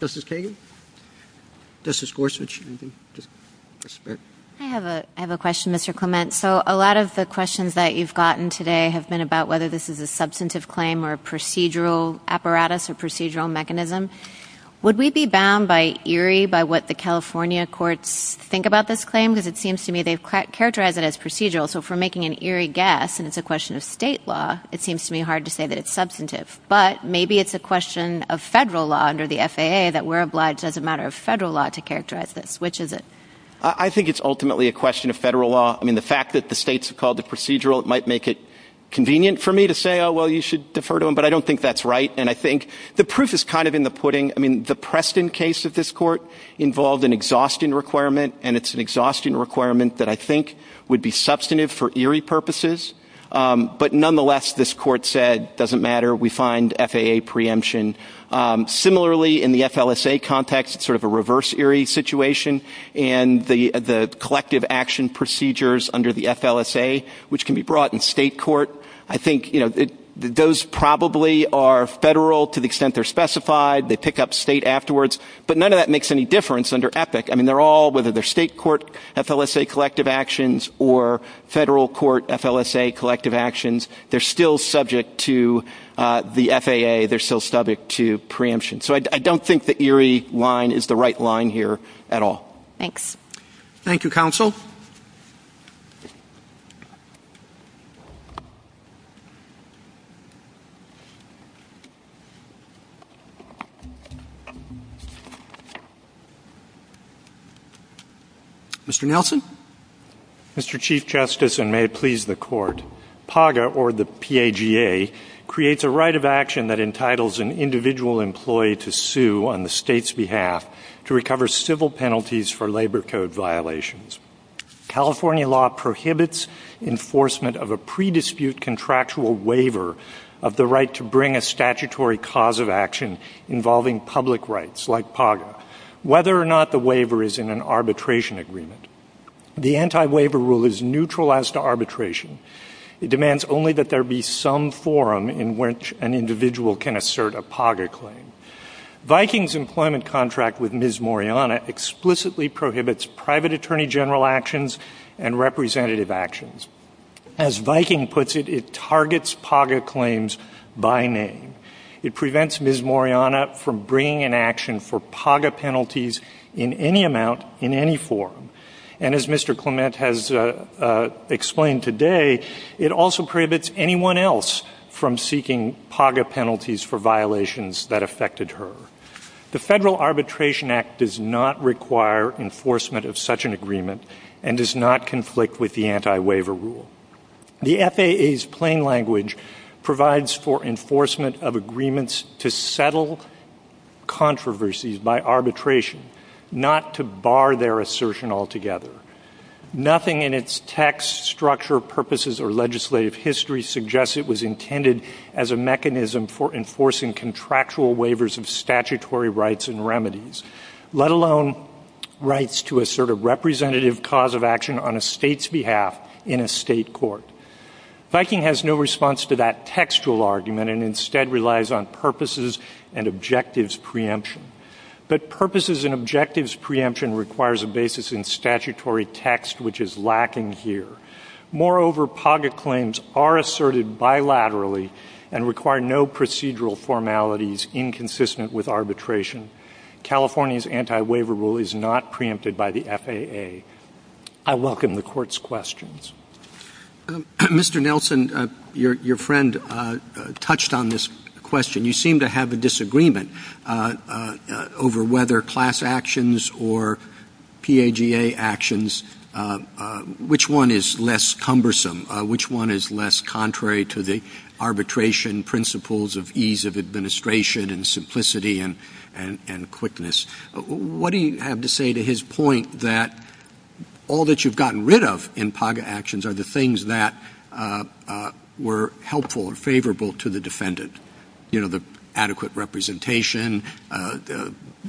Justice Kagan? Justice Gorsuch? I have a question, Mr. Clement. So a lot of the questions that you've gotten today have been about whether this is a substantive claim or a procedural apparatus or procedural mechanism. Would we be bound by eerie, by what the California courts think about this claim? Because it seems to me they've characterized it as procedural. So if we're making an eerie guess and it's a question of state law, it seems to me hard to say that it's substantive. But maybe it's a question of federal law under the FAA that we're obliged as a matter of federal law to characterize this. Which is it? I think it's ultimately a question of federal law. I mean, the fact that the states have called it procedural, it might make it convenient for me to say, oh, well, you should defer to them. But I don't think that's right. And I think the proof is kind of in the pudding. I mean, the Preston case of this court involved an exhaustion requirement, and it's an exhaustion requirement that I think would be substantive for eerie purposes. But nonetheless, this court said it doesn't matter. We find FAA preemption. Similarly, in the FLSA context, it's sort of a reverse eerie situation. And the collective action procedures under the FLSA, which can be brought in state court, I think, you know, those probably are federal to the extent they're specified. They pick up state afterwards. But none of that makes any difference under EPIC. I mean, they're all, whether they're state court FLSA collective actions or federal court FLSA collective actions, they're still subject to the FAA. They're still subject to preemption. So I don't think the eerie line is the right line here at all. Thanks. Thank you, counsel. Mr. Nelson. Mr. Chief Justice, and may it please the court, PAGA, or the PAGA, creates a right of action that entitles an individual employee to sue on the state's behalf to recover civil penalties for labor code violations. California law prohibits enforcement of a pre-dispute contractual waiver of the right to bring a statutory cause of action involving public rights, like PAGA. Whether or not the waiver is in an arbitration agreement, the anti-waiver rule is neutral as to arbitration. It demands only that there be some forum in which an individual can assert a PAGA claim. Viking's employment contract with Ms. Moriana explicitly prohibits private attorney general actions and representative actions. As Viking puts it, it targets PAGA claims by name. It prevents Ms. Moriana from bringing in action for PAGA penalties in any amount, in any forum. And as Mr. Clement has explained today, it also prohibits anyone else from seeking PAGA penalties for violations that affected her. The Federal Arbitration Act does not require enforcement of such an agreement and does not conflict with the anti-waiver rule. The FAA's plain language provides for enforcement of agreements to settle controversies by arbitration, not to bar their assertion altogether. Nothing in its text, structure, purposes, or legislative history suggests it was intended as a mechanism for enforcing contractual waivers of statutory rights and remedies, let alone rights to assert a representative cause of action on a state's behalf in a state court. Viking has no response to that textual argument and instead relies on purposes and objectives preemption. But purposes and objectives preemption requires a basis in statutory text, which is lacking here. Moreover, PAGA claims are asserted bilaterally and require no procedural formalities inconsistent with arbitration. California's anti-waiver rule is not preempted by the FAA. I welcome the Court's questions. Mr. Nelson, your friend touched on this question. You seem to have a disagreement over whether class actions or PAGA actions, which one is less cumbersome, which one is less contrary to the arbitration principles of ease of administration and simplicity and quickness. What do you have to say to his point that all that you've gotten rid of in PAGA actions are the things that were helpful or favorable to the defendant? You know, the adequate representation,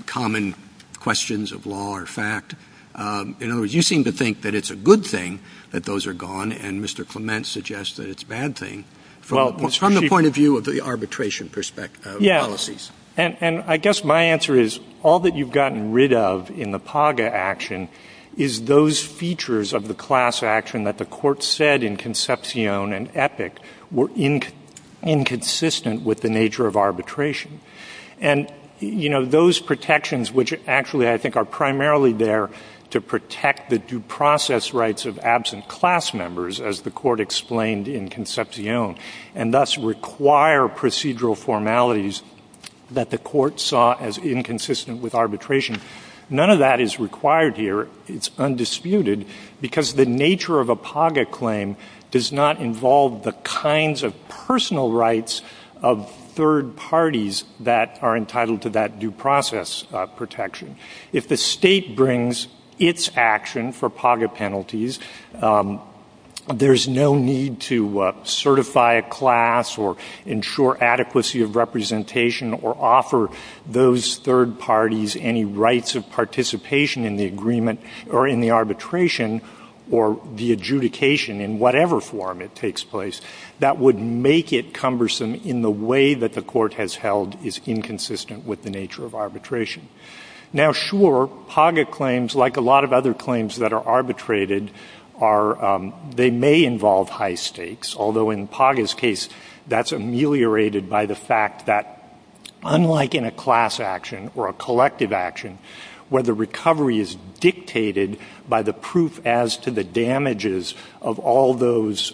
common questions of law or fact. In other words, you seem to think that it's a good thing that those are gone, and Mr. Clement suggests that it's a bad thing from the point of view of the arbitration policies. Yes, and I guess my answer is all that you've gotten rid of in the PAGA action is those features of the class action that the Court said in Concepcion and Epic were inconsistent with the nature of arbitration. And, you know, those protections, which actually I think are primarily there to protect the due process rights of absent class members, as the Court explained in Concepcion, and thus require procedural formalities that the Court saw as inconsistent with arbitration, none of that is required here. It's undisputed, because the nature of a PAGA claim does not involve the kinds of personal rights of third parties that are entitled to that due process protection. If the State brings its action for PAGA penalties, there's no need to certify a class or ensure adequacy of representation or offer those third parties any rights of participation in the agreement or in the arbitration or the adjudication in whatever form it takes place. That would make it cumbersome in the way that the Court has held is inconsistent with the nature of arbitration. Now, sure, PAGA claims, like a lot of other claims that are arbitrated, they may involve high stakes. Although in PAGA's case, that's ameliorated by the fact that, unlike in a class action or a collective action where the recovery is dictated by the proof as to the damages of all those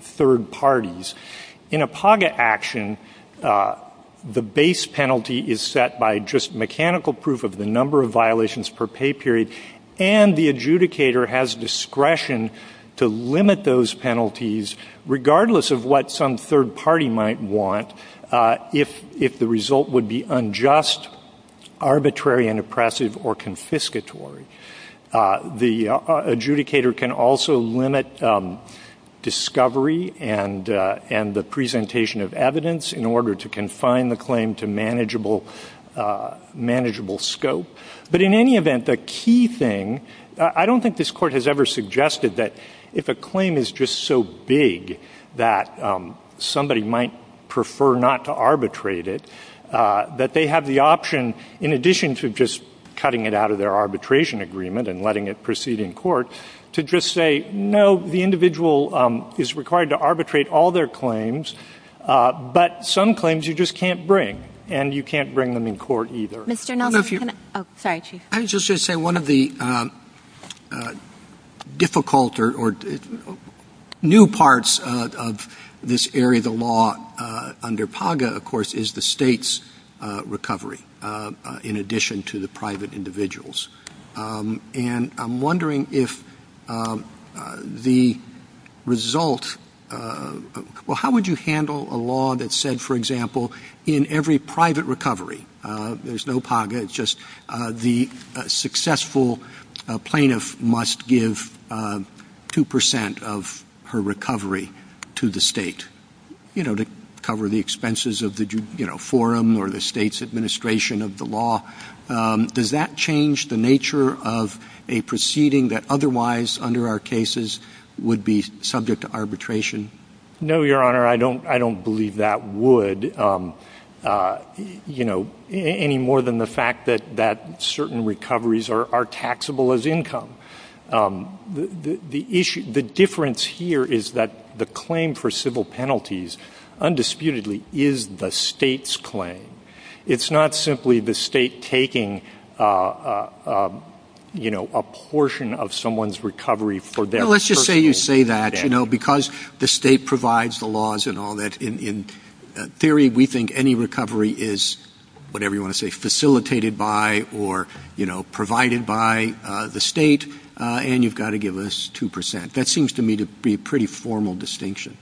third parties, in a PAGA action, the base penalty is set by just mechanical proof of the number of violations per pay period, and the adjudicator has discretion to limit those penalties, regardless of what some third party might want, if the result would be unjust, arbitrary, and oppressive or confiscatory. The adjudicator can also limit discovery and the presentation of evidence in order to confine the claim to manageable scope. But in any event, the key thing, I don't think this Court has ever suggested that if a claim is just so big that somebody might prefer not to arbitrate it, that they have the option, in addition to just cutting it out of their arbitration agreement and letting it proceed in court, to just say, no, the individual is required to arbitrate all their claims, but some claims you just can't bring, and you can't bring them in court either. I was just going to say, one of the difficult or new parts of this area of the law under PAGA, of course, is the state's recovery, in addition to the private individuals. And I'm wondering if the result, well, how would you handle a law that said, for example, in every private recovery, there's no PAGA, it's just the successful plaintiff must give 2% of her recovery to the state, you know, to cover the expenses of the forum or the state's administration of the law. Does that change the nature of a proceeding that otherwise, under our cases, would be subject to arbitration? No, Your Honor, I don't believe that would, you know, any more than the fact that certain recoveries are taxable as income. The difference here is that the claim for civil penalties, undisputedly, is the state's claim. It's not simply the state taking, you know, a portion of someone's recovery for them. Well, let's just say you say that, you know, because the state provides the laws and all that, in theory we think any recovery is, whatever you want to say, facilitated by or, you know, provided by the state, and you've got to give us 2%. That seems to me to be a pretty formal distinction.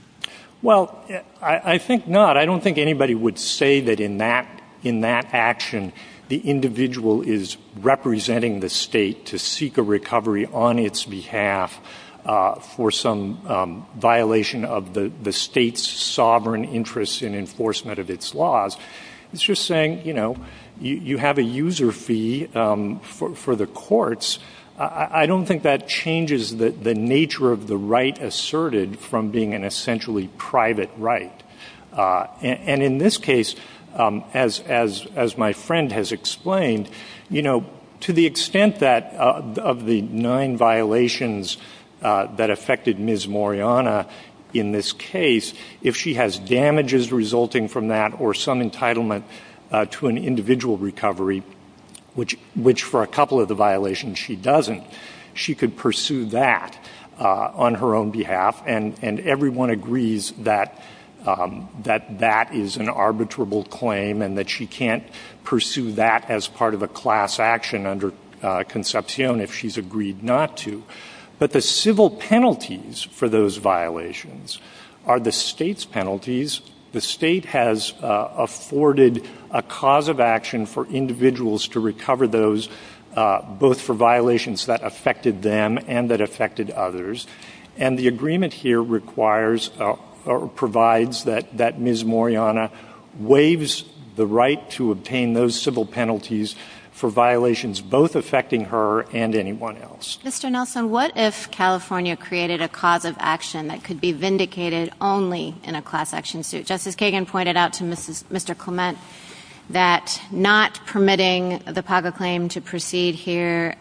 Well, I think not. But I don't think anybody would say that in that action the individual is representing the state to seek a recovery on its behalf for some violation of the state's sovereign interests in enforcement of its laws. It's just saying, you know, you have a user fee for the courts. I don't think that changes the nature of the right asserted from being an essentially private right. And in this case, as my friend has explained, you know, to the extent that of the nine violations that affected Ms. Moriana in this case, if she has damages resulting from that or some entitlement to an individual recovery, which for a couple of the violations she doesn't, she could pursue that on her own behalf, and everyone agrees that that is an arbitrable claim and that she can't pursue that as part of a class action under Concepcion if she's agreed not to. But the civil penalties for those violations are the state's penalties. The state has afforded a cause of action for individuals to recover those both for violations that affected them and that affected others. And the agreement here requires or provides that Ms. Moriana waives the right to obtain those civil penalties for violations both affecting her and anyone else. Mr. Nelson, what if California created a cause of action that could be vindicated only in a class action suit? Justice Kagan pointed out to Mr. Clement that not permitting the PACA claim to proceed here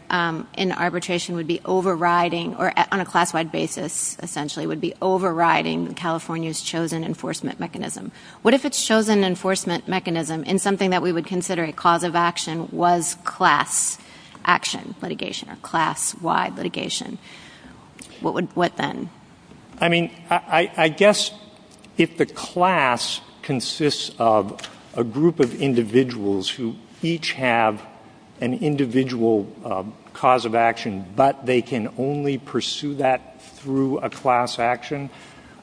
in arbitration would be overriding or on a class-wide basis, essentially, would be overriding California's chosen enforcement mechanism. What if its chosen enforcement mechanism in something that we would consider a cause of action was class action litigation or class-wide litigation? What then? I mean, I guess if the class consists of a group of individuals who each have an individual cause of action but they can only pursue that through a class action,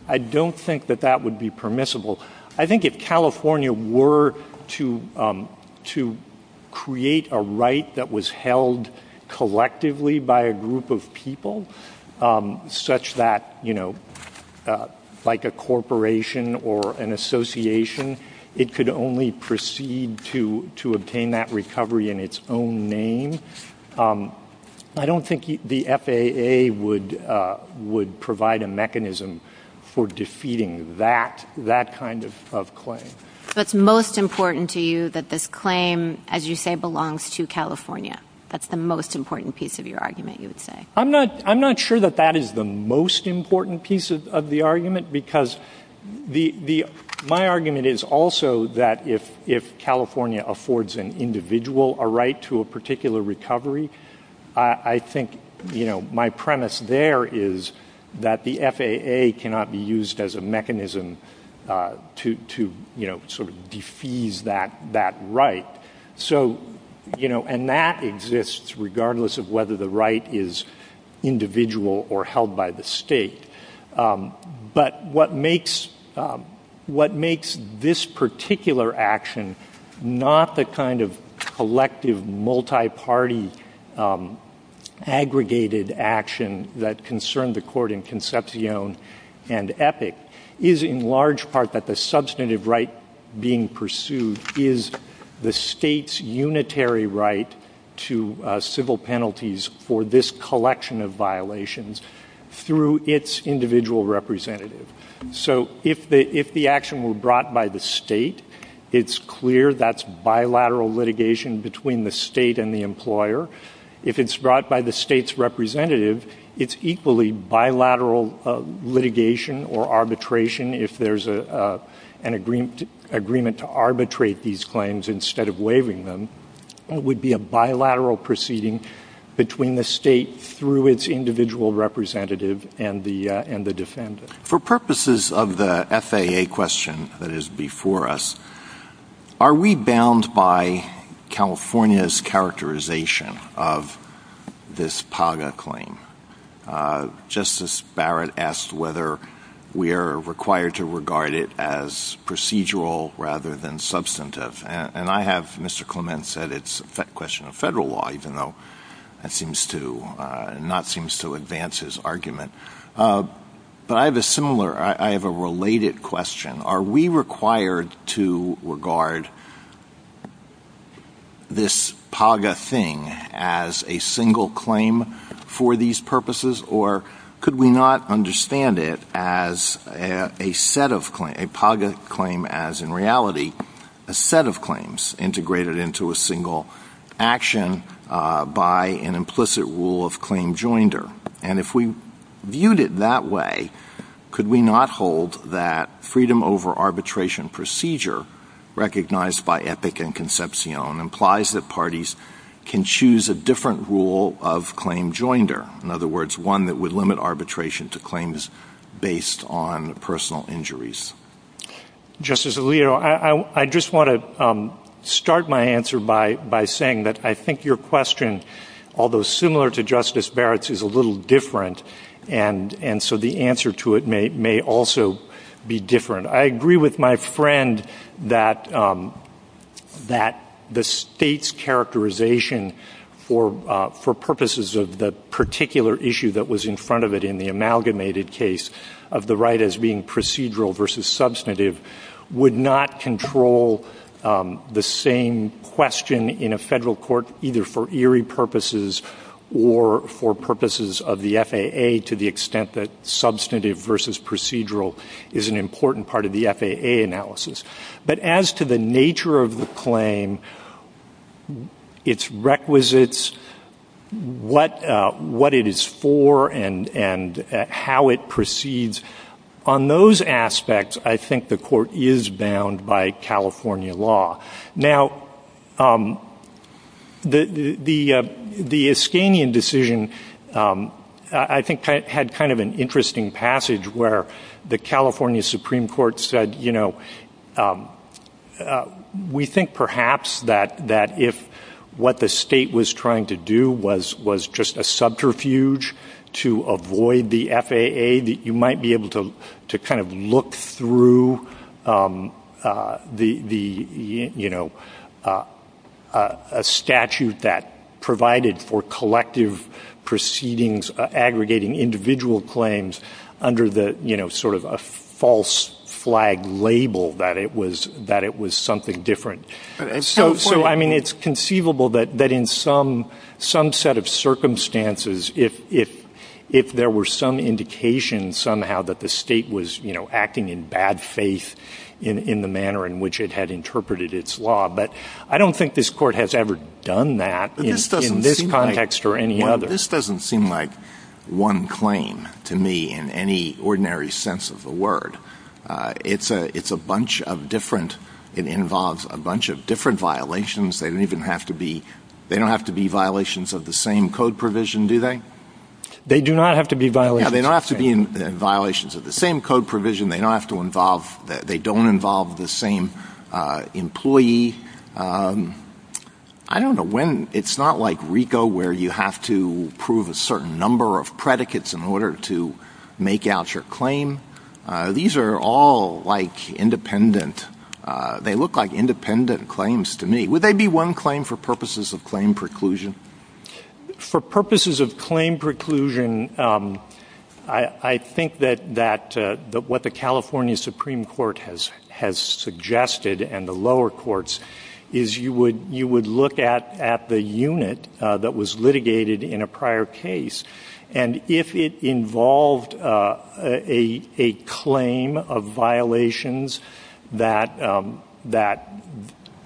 I don't think that that would be permissible. I think if California were to create a right that was held collectively by a group of people such that, you know, like a corporation or an association, it could only proceed to obtain that recovery in its own name, I don't think the FAA would provide a mechanism for defeating that kind of claim. So it's most important to you that this claim, as you say, belongs to California. That's the most important piece of your argument, you would say. I'm not sure that that is the most important piece of the argument because my argument is also that if California affords an individual a right to a particular recovery, I think, you know, my premise there is that the FAA cannot be used as a mechanism to, you know, sort of defease that right. So, you know, and that exists regardless of whether the right is individual or held by the state. But what makes this particular action not the kind of collective, multi-party, aggregated action that concerned the court in Concepcion and Epic is, in large part, that the substantive right being pursued is the state's unitary right to civil penalties for this collection of violations through its individual representative. So if the action were brought by the state, it's clear that's bilateral litigation between the state and the employer. If it's brought by the state's representative, it's equally bilateral litigation or arbitration if there's an agreement to arbitrate these claims instead of waiving them. It would be a bilateral proceeding between the state through its individual representative and the defendant. For purposes of the FAA question that is before us, are we bound by California's characterization of this PAGA claim? Justice Barrett asked whether we are required to regard it as procedural rather than substantive. And I have Mr. Clement said it's a question of federal law, even though that seems to advance his argument. But I have a similar, I have a related question. Are we required to regard this PAGA thing as a single claim for these purposes? Or could we not understand it as a set of claims, a PAGA claim as in reality, a set of claims integrated into a single action by an implicit rule of claim joinder? And if we viewed it that way, could we not hold that freedom over arbitration procedure, recognized by Epic and Concepcion, implies that parties can choose a different rule of claim joinder? In other words, one that would limit arbitration to claims based on personal injuries. Justice Alito, I just want to start my answer by saying that I think your question, although similar to Justice Barrett's, is a little different. And so the answer to it may also be different. I agree with my friend that the state's characterization for purposes of the particular issue that was in front of it in the amalgamated case of the right as being procedural versus substantive would not control the same question in a federal court either for eerie purposes or for purposes of the FAA to the extent that substantive versus procedural is an important part of the FAA analysis. But as to the nature of the claim, its requisites, what it is for, and how it proceeds, on those aspects I think the court is bound by California law. Now, the Iskanian decision I think had kind of an interesting passage where the California Supreme Court said, you know, we think perhaps that if what the state was trying to do was just a subterfuge to avoid the FAA, that you might be able to kind of look through the, you know, a statute that provided for collective proceedings aggregating individual claims under the, you know, sort of a false flag label that it was something different. So, I mean, it's conceivable that in some set of circumstances if there were some indication somehow that the state was, you know, acting in bad faith in the manner in which it had interpreted its law, but I don't think this court has ever done that in this context or any other. Well, this doesn't seem like one claim to me in any ordinary sense of the word. It's a bunch of different, it involves a bunch of different violations. They don't even have to be, they don't have to be violations of the same code provision, do they? They do not have to be violations. Yeah, they don't have to be violations of the same code provision. They don't have to involve, they don't involve the same employee. I don't know when, it's not like RICO where you have to prove a certain number of predicates in order to make out your claim. These are all like independent, they look like independent claims to me. Would they be one claim for purposes of claim preclusion? For purposes of claim preclusion, I think that what the California Supreme Court has suggested and the lower courts is you would look at the unit that was litigated in a prior case and if it involved a claim of violations that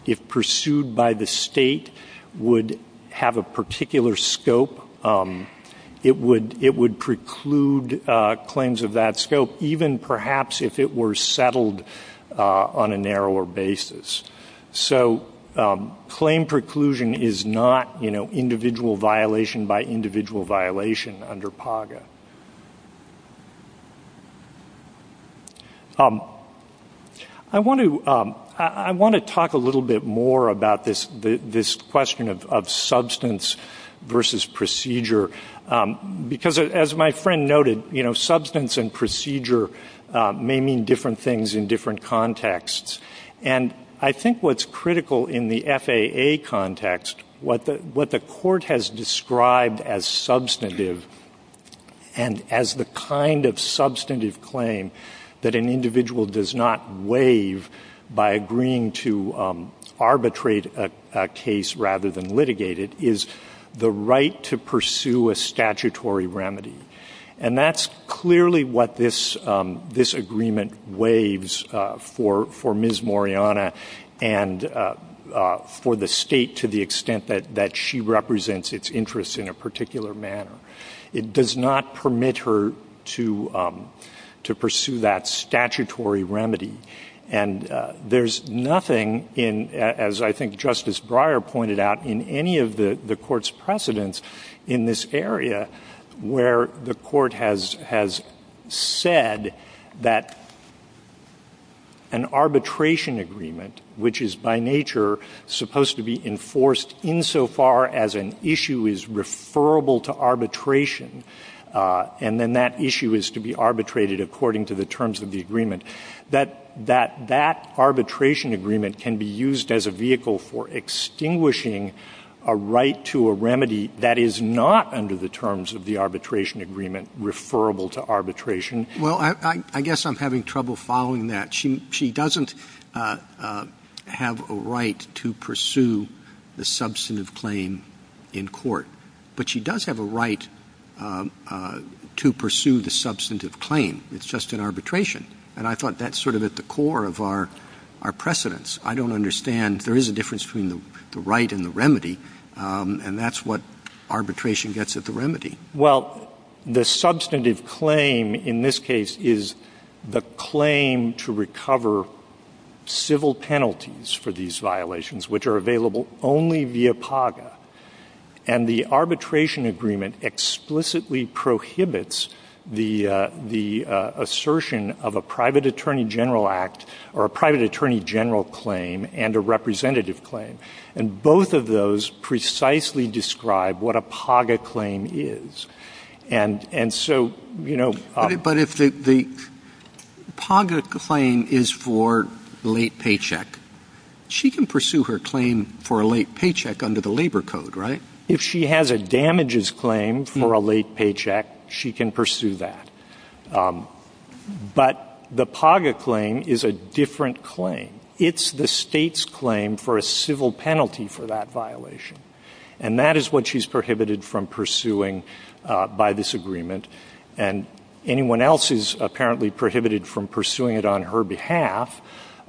if pursued by the state would have a particular scope, it would preclude claims of that scope even perhaps if it were settled on a narrower basis. So claim preclusion is not individual violation by individual violation under PAGA. I want to talk a little bit more about this question of substance versus procedure because as my friend noted, substance and procedure may mean different things in different contexts. And I think what's critical in the FAA context, what the court has described as substantive and as the kind of substantive claim that an individual does not waive by agreeing to arbitrate a case rather than litigate it is the right to pursue a statutory remedy. And that's clearly what this agreement waives for Ms. Moriana and for the state to the extent that she represents its interests in a particular manner. It does not permit her to pursue that statutory remedy. And there's nothing, as I think Justice Breyer pointed out, in any of the court's precedents in this area where the court has said that an arbitration agreement, which is by nature supposed to be enforced insofar as an issue is referable to arbitration and then that issue is to be arbitrated according to the terms of the agreement, that that arbitration agreement can be used as a vehicle for extinguishing a right to a remedy that is not under the terms of the arbitration agreement referable to arbitration. Well, I guess I'm having trouble following that. She doesn't have a right to pursue the substantive claim in court, but she does have a right to pursue the substantive claim. It's just an arbitration. And I thought that's sort of at the core of our precedents. I don't understand. There is a difference between the right and the remedy, and that's what arbitration gets at the remedy. Well, the substantive claim in this case is the claim to recover civil penalties for these violations, which are available only via PAGA. And the arbitration agreement explicitly prohibits the assertion of a private attorney general act claim and a representative claim, and both of those precisely describe what a PAGA claim is. And so, you know. But if the PAGA claim is for late paycheck, she can pursue her claim for a late paycheck under the labor code, right? If she has a damages claim for a late paycheck, she can pursue that. But the PAGA claim is a different claim. It's the state's claim for a civil penalty for that violation, and that is what she's prohibited from pursuing by this agreement. And anyone else is apparently prohibited from pursuing it on her behalf,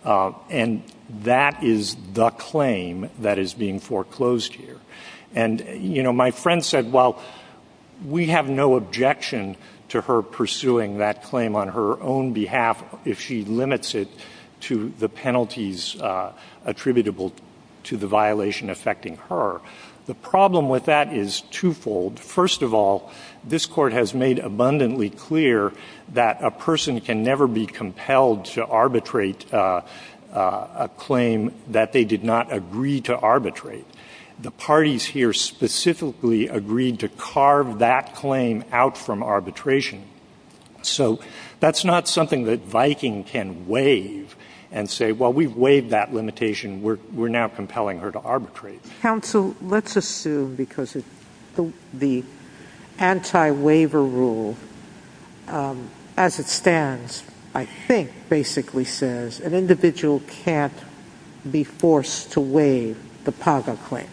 and that is the claim that is being foreclosed here. And, you know, my friend said, well, we have no objection to her pursuing that claim on her own behalf if she limits it to the penalties attributable to the violation affecting her. The problem with that is twofold. First of all, this court has made abundantly clear that a person can never be compelled to arbitrate a claim that they did not agree to arbitrate. The parties here specifically agreed to carve that claim out from arbitration. So that's not something that Viking can waive and say, well, we waived that limitation. We're now compelling her to arbitrate. Counsel, let's assume because the anti-waiver rule, as it stands, I think basically says an individual can't be forced to waive the PAGA claim.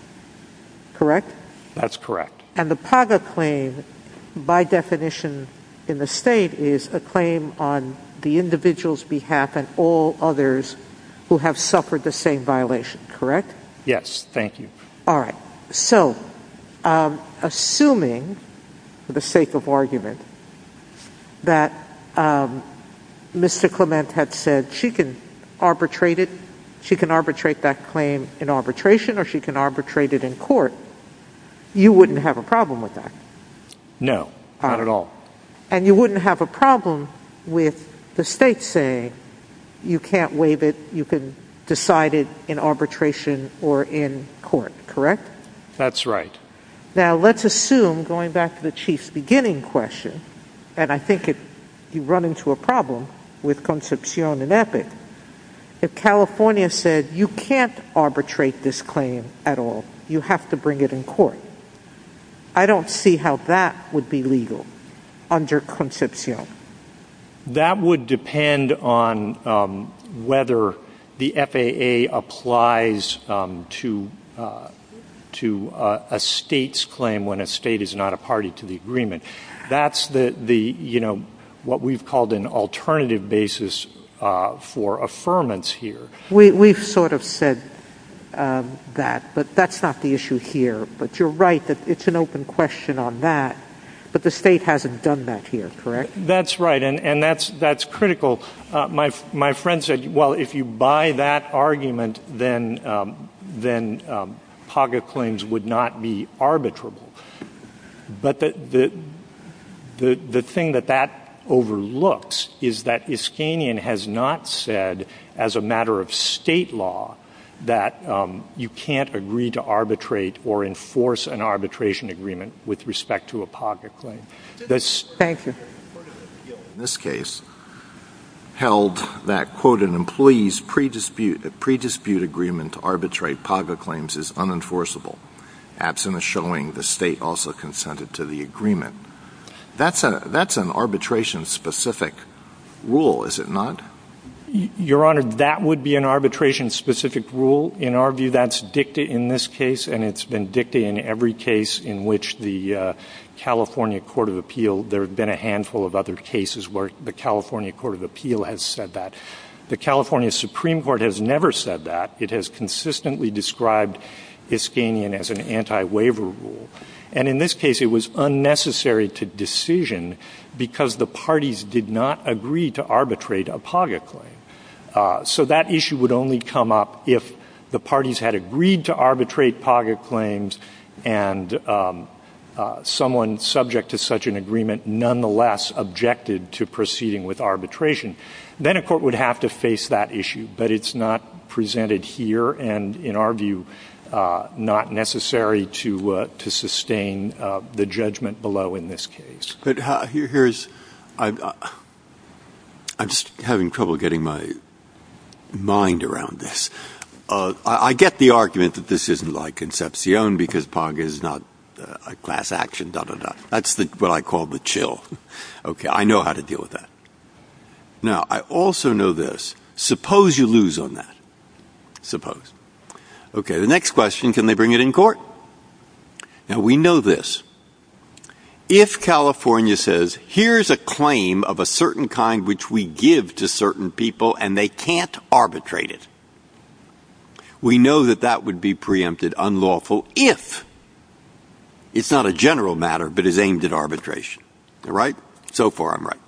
Correct? That's correct. And the PAGA claim by definition in the state is a claim on the individual's behalf and all others who have suffered the same violation. Correct? Yes. Thank you. All right. So assuming for the sake of argument that Mr. Clement had said she can arbitrate that claim in arbitration or she can arbitrate it in court, you wouldn't have a problem with that? No, not at all. And you wouldn't have a problem with the state saying you can't waive it, you can decide it in arbitration or in court. Correct? That's right. Now let's assume, going back to the chief's beginning question, and I think if you run into a problem with Concepcion and Epic, if California said you can't arbitrate this claim at all, you have to bring it in court, I don't see how that would be legal under Concepcion. That would depend on whether the FAA applies to a state's claim when a state is not a party to the agreement. That's what we've called an alternative basis for affirmance here. We've sort of said that, but that's not the issue here. But you're right, it's an open question on that, but the state hasn't done that here, correct? That's right, and that's critical. My friend said, well, if you buy that argument, then pocket claims would not be arbitrable. But the thing that that overlooks is that Iskanian has not said, as a matter of state law, that you can't agree to arbitrate or enforce an arbitration agreement with respect to a pocket claim. In this case, held that, quote, an employee's pre-dispute agreement to arbitrate pocket claims is unenforceable. Absent a showing, the state also consented to the agreement. That's an arbitration-specific rule, is it not? Your Honor, that would be an arbitration-specific rule. In our view, that's dicta in this case, and it's been dicta in every case in which the California Court of Appeal. There have been a handful of other cases where the California Court of Appeal has said that. The California Supreme Court has never said that. It has consistently described Iskanian as an anti-waiver rule. And in this case, it was unnecessary to decision because the parties did not agree to arbitrate a pocket claim. So that issue would only come up if the parties had agreed to arbitrate pocket claims and someone subject to such an agreement nonetheless objected to proceeding with arbitration. Then a court would have to face that issue, but it's not presented here and, in our view, not necessary to sustain the judgment below in this case. I'm just having trouble getting my mind around this. I get the argument that this isn't like Concepcion because Pong is not a class action. That's what I call the chill. I know how to deal with that. Now, I also know this. Suppose you lose on that. Suppose. Okay, the next question, can they bring it in court? Now, we know this. If California says, here's a claim of a certain kind which we give to certain people and they can't arbitrate it, we know that that would be preempted unlawful if it's not a general matter but is aimed at arbitration. Right? So far, I'm right.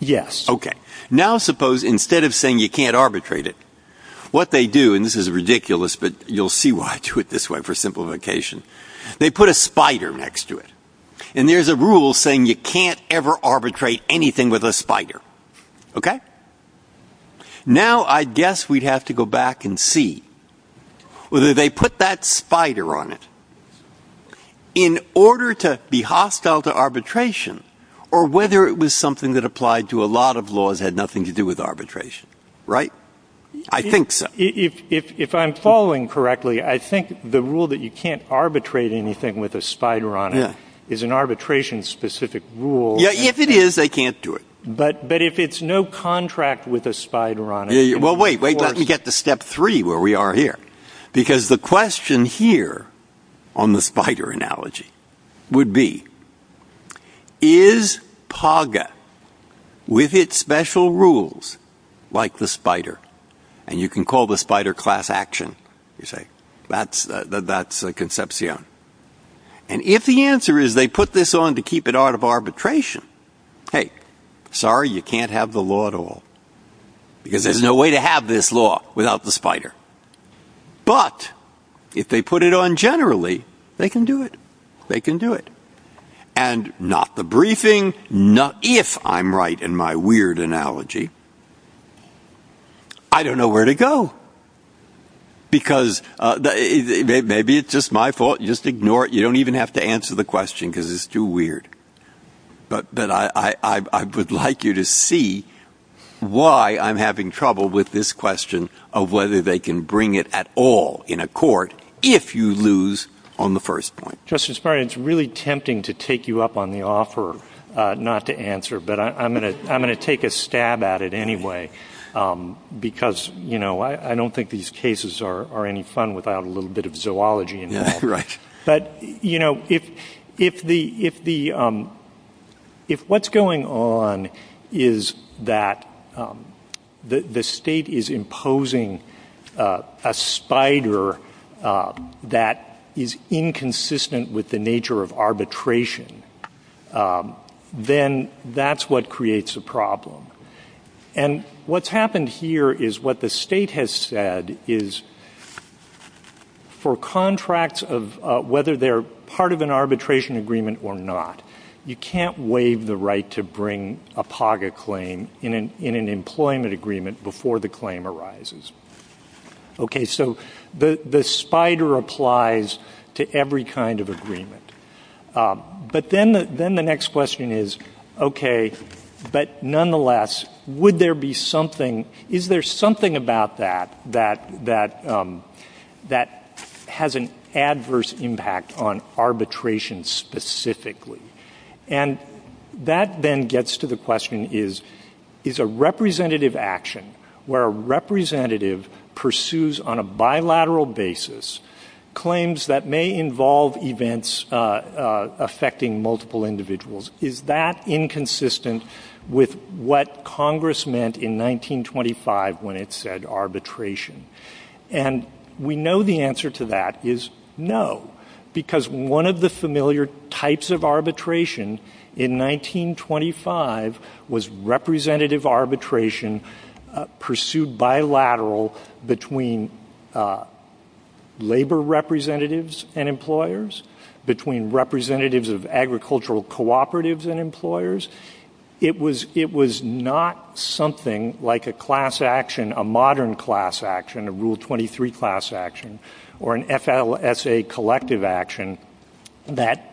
Yes. Okay. Now, suppose instead of saying you can't arbitrate it, what they do, and this is ridiculous but you'll see why I do it this way for simplification, they put a spider next to it. And there's a rule saying you can't ever arbitrate anything with a spider. Okay? Now, I guess we'd have to go back and see whether they put that spider on it. In order to be hostile to arbitration or whether it was something that applied to a lot of laws that had nothing to do with arbitration. Right? I think so. If I'm following correctly, I think the rule that you can't arbitrate anything with a spider on it is an arbitration-specific rule. Yeah, if it is, they can't do it. But if it's no contract with a spider on it. Well, wait. Let me get to step three where we are here. Because the question here on the spider analogy would be, is PAGA, with its special rules, like the spider? And you can call the spider class action. You say, that's a conception. And if the answer is they put this on to keep it out of arbitration, hey, sorry, you can't have the law at all. Because there's no way to have this law without the spider. But if they put it on generally, they can do it. They can do it. And not the briefing. If I'm right in my weird analogy, I don't know where to go. Because maybe it's just my fault. You just ignore it. You don't even have to answer the question because it's too weird. But I would like you to see why I'm having trouble with this question of whether they can bring it at all in a court if you lose on the first point. It's really tempting to take you up on the offer not to answer. But I'm going to take a stab at it anyway. Because, you know, I don't think these cases are any fun without a little bit of zoology involved. But, you know, if what's going on is that the state is imposing a spider that is inconsistent with the nature of arbitration, then that's what creates a problem. And what's happened here is what the state has said is for contracts of whether they're part of an arbitration agreement or not, you can't waive the right to bring a POGA claim in an employment agreement before the claim arises. Okay, so the spider applies to every kind of agreement. But then the next question is, okay, but nonetheless, is there something about that that has an adverse impact on arbitration specifically? And that then gets to the question is, is a representative action where a representative pursues on a bilateral basis claims that may involve events affecting multiple individuals, is that inconsistent with what Congress meant in 1925 when it said arbitration? And we know the answer to that is no. Because one of the familiar types of arbitration in 1925 was representative arbitration pursued bilateral between labor representatives and employers, between representatives of agricultural cooperatives and employers. It was not something like a class action, a modern class action, a Rule 23 class action, or an FLSA collective action that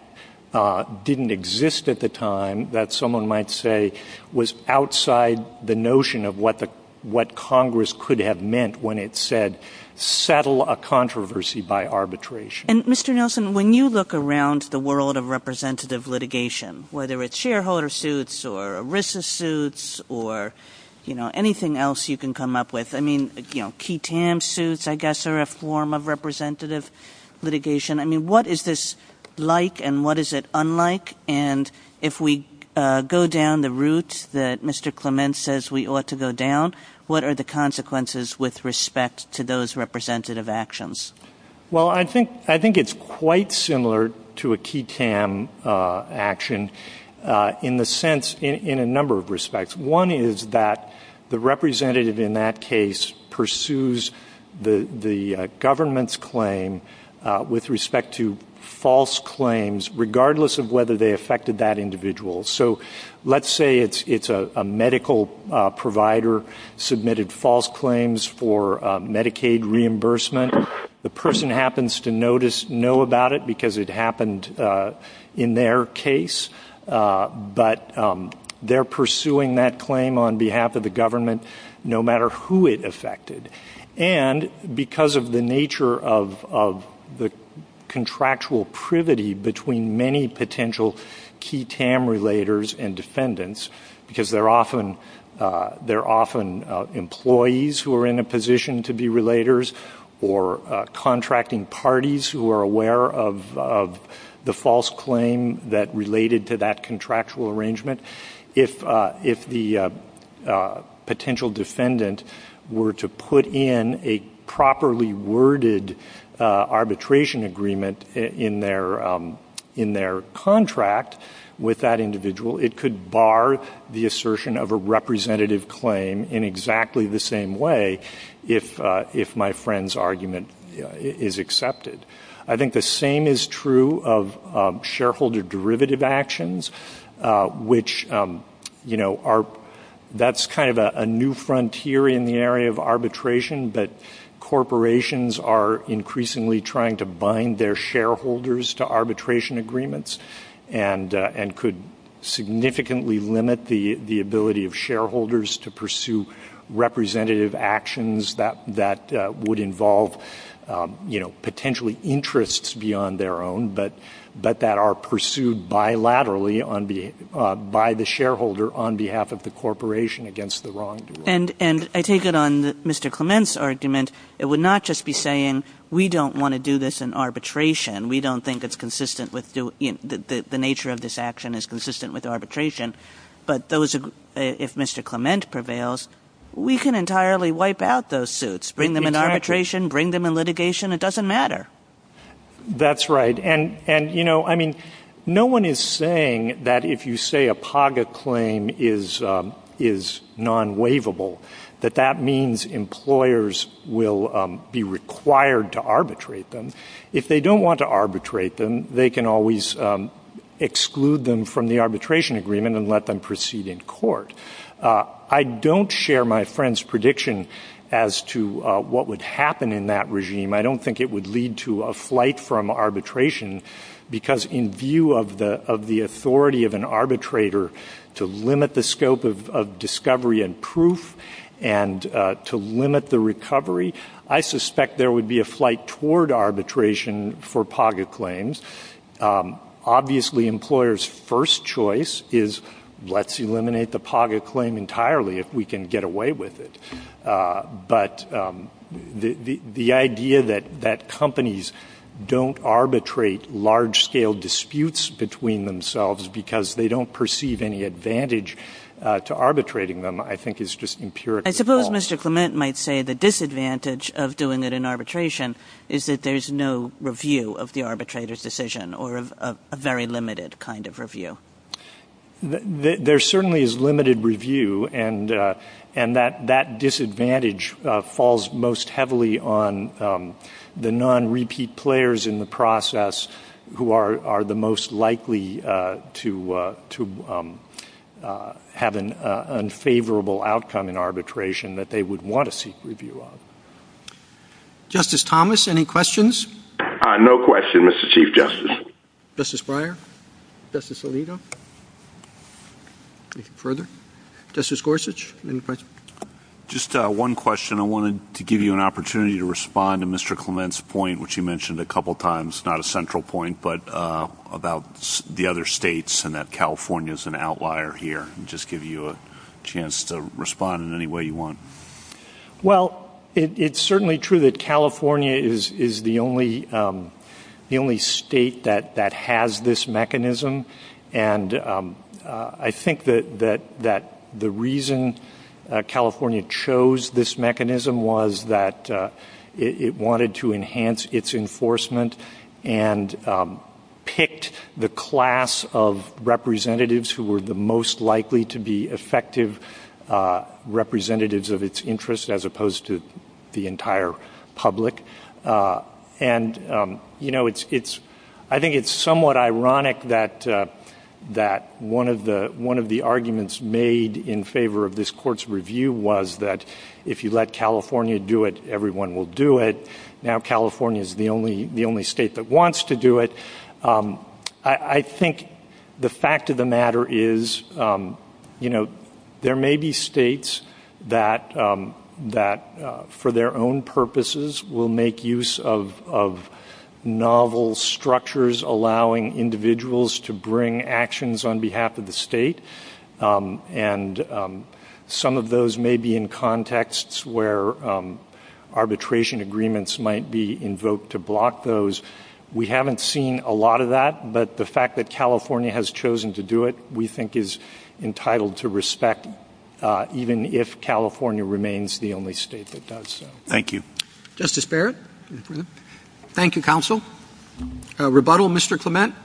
didn't exist at the time that someone might say was outside the notion of what Congress could have meant when it said settle a controversy by arbitration. And Mr. Nelson, when you look around the world of representative litigation, whether it's shareholder suits or ERISA suits or anything else you can come up with, I mean, you know, key TAM suits, I guess, are a form of representative litigation. I mean, what is this like and what is it unlike? And if we go down the route that Mr. Clement says we ought to go down, what are the consequences with respect to those representative actions? Well, I think it's quite similar to a key TAM action in a number of respects. One is that the representative in that case pursues the government's claim with respect to false claims, regardless of whether they affected that individual. So let's say it's a medical provider submitted false claims for Medicaid reimbursement. The person happens to know about it because it happened in their case, but they're pursuing that claim on behalf of the government, no matter who it affected. And because of the nature of the contractual privity between many potential key TAM relators and defendants, because they're often employees who are in a position to be relators or contracting parties who are aware of the false claim that related to that contractual arrangement, if the potential defendant were to put in a properly worded arbitration agreement in their contract with that individual, it could bar the assertion of a representative claim in exactly the same way if my friend's argument is accepted. I think the same is true of shareholder derivative actions. That's kind of a new frontier in the area of arbitration, but corporations are increasingly trying to bind their shareholders to arbitration agreements and could significantly limit the ability of shareholders to pursue representative actions that would involve potentially interests beyond their own, but that are pursued bilaterally by the shareholder on behalf of the corporation against the wrongdoer. And I take it on Mr. Clement's argument, it would not just be saying, we don't want to do this in arbitration, we don't think the nature of this action is consistent with arbitration, but if Mr. Clement prevails, we can entirely wipe out those suits, bring them in arbitration, bring them in litigation, it doesn't matter. That's right, and you know, I mean, no one is saying that if you say a PAGA claim is non-waivable, that that means employers will be required to arbitrate them. If they don't want to arbitrate them, they can always exclude them from the arbitration agreement and let them proceed in court. I don't share my friend's prediction as to what would happen in that regime. I don't think it would lead to a flight from arbitration, because in view of the authority of an arbitrator to limit the scope of discovery and proof and to limit the recovery, I suspect there would be a flight toward arbitration for PAGA claims. Obviously, employers' first choice is, let's eliminate the PAGA claim entirely if we can get away with it, but the idea that companies don't arbitrate large-scale disputes between themselves because they don't perceive any advantage to arbitrating them, I think is just empirically false. I suppose Mr. Clement might say the disadvantage of doing it in arbitration is that there's no review of the arbitrator's decision or a very limited kind of review. There certainly is limited review, and that disadvantage falls most heavily on the non-repeat players in the process who are the most likely to have an unfavorable outcome in arbitration that they would want to seek review of. Justice Thomas, any questions? No question, Mr. Chief Justice. Justice Breyer, Justice Alito, any further? Justice Gorsuch, any questions? Just one question. I wanted to give you an opportunity to respond to Mr. Clement's point, which you mentioned a couple times, not a central point, but about the other states and that California is an outlier here, and just give you a chance to respond in any way you want. Well, it's certainly true that California is the only state that has this mechanism. And I think that the reason California chose this mechanism was that it wanted to enhance its enforcement and picked the class of representatives who were the most likely to be effective representatives of its interest, as opposed to the entire public. And I think it's somewhat ironic that one of the arguments made in favor of this court's review was that if you let California do it, everyone will do it. Now California is the only state that wants to do it. I think the fact of the matter is there may be states that, for their own purposes, will make use of novel structures allowing individuals to bring actions on behalf of the state. And some of those may be in contexts where arbitration agreements might be invoked to block those. We haven't seen a lot of that, but the fact that California has chosen to do it, we think, is entitled to respect, even if California remains the only state that does so. Thank you. Justice Barrett? Thank you, counsel. Rebuttal, Mr. Clement?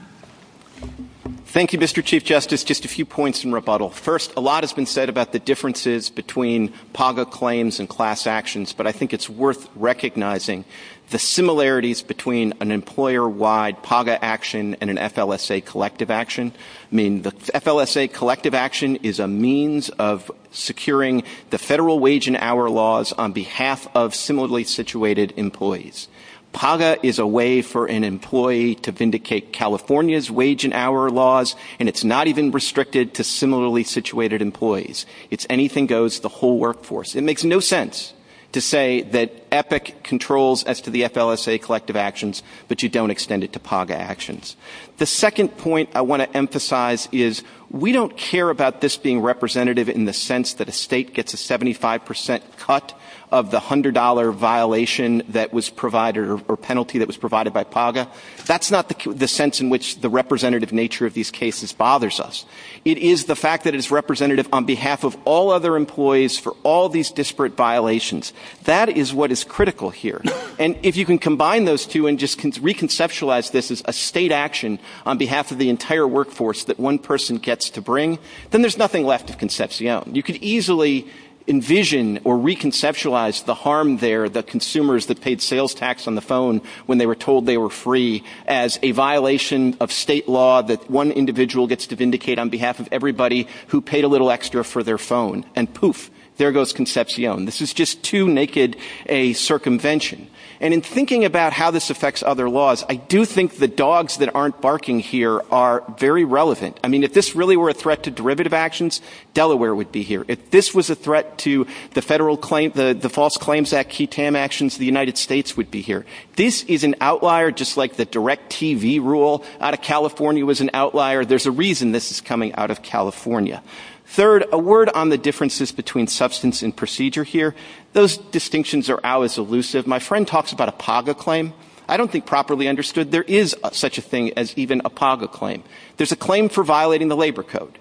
Thank you, Mr. Chief Justice. Just a few points in rebuttal. First, a lot has been said about the differences between PAGA claims and class actions, but I think it's worth recognizing the similarities between an employer-wide PAGA action and an FLSA collective action. I mean, the FLSA collective action is a means of securing the federal wage and hour laws on behalf of similarly situated employees. PAGA is a way for an employee to vindicate California's wage and hour laws, and it's not even restricted to similarly situated employees. It's anything goes, the whole workforce. It makes no sense to say that EPIC controls as to the FLSA collective actions, but you don't extend it to PAGA actions. The second point I want to emphasize is we don't care about this being representative in the sense that a state gets a 75% cut of the $100 violation that was provided or penalty that was provided by PAGA. That's not the sense in which the representative nature of these cases bothers us. It is the fact that it's representative on behalf of all other employees for all these disparate violations. That is what is critical here. And if you can combine those two and just re-conceptualize this as a state action on behalf of the entire workforce that one person gets to bring, then there's nothing left of Concepcion. You could easily envision or re-conceptualize the harm there that consumers that paid sales tax on the phone when they were told they were free as a violation of state law that one individual gets to vindicate on behalf of everybody who paid a little extra for their phone. And poof, there goes Concepcion. This is just too naked a circumvention. And in thinking about how this affects other laws, I do think the dogs that aren't barking here are very relevant. I mean, if this really were a threat to derivative actions, Delaware would be here. If this was a threat to the Federal Claims, the False Claims Act, QTAM actions, the United States would be here. This is an outlier just like the direct TV rule out of California was an outlier. There's a reason this is coming out of California. Third, a word on the differences between substance and procedure here. Those distinctions are always elusive. My friend talks about a PAGA claim. I don't think properly understood there is such a thing as even a PAGA claim. There's a claim for violating the labor code.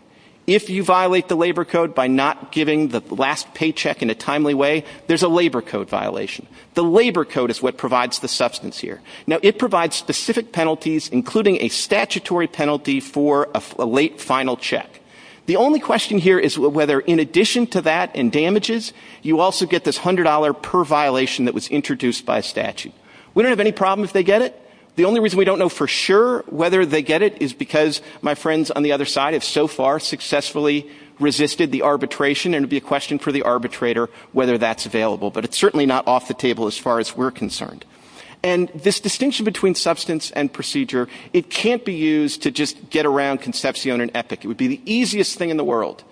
If you violate the labor code by not giving the last paycheck in a timely way, there's a labor code violation. The labor code is what provides the substance here. Now, it provides specific penalties including a statutory penalty for a late final check. The only question here is whether in addition to that and damages, you also get this $100 per violation that was introduced by statute. We don't have any problem if they get it. The only reason we don't know for sure whether they get it is because my friends on the other side have so far successfully resisted the arbitration, and it would be a question for the arbitrator whether that's available. But it's certainly not off the table as far as we're concerned. And this distinction between substance and procedure, it can't be used to just get around Concepcion and Epic. It would be the easiest thing in the world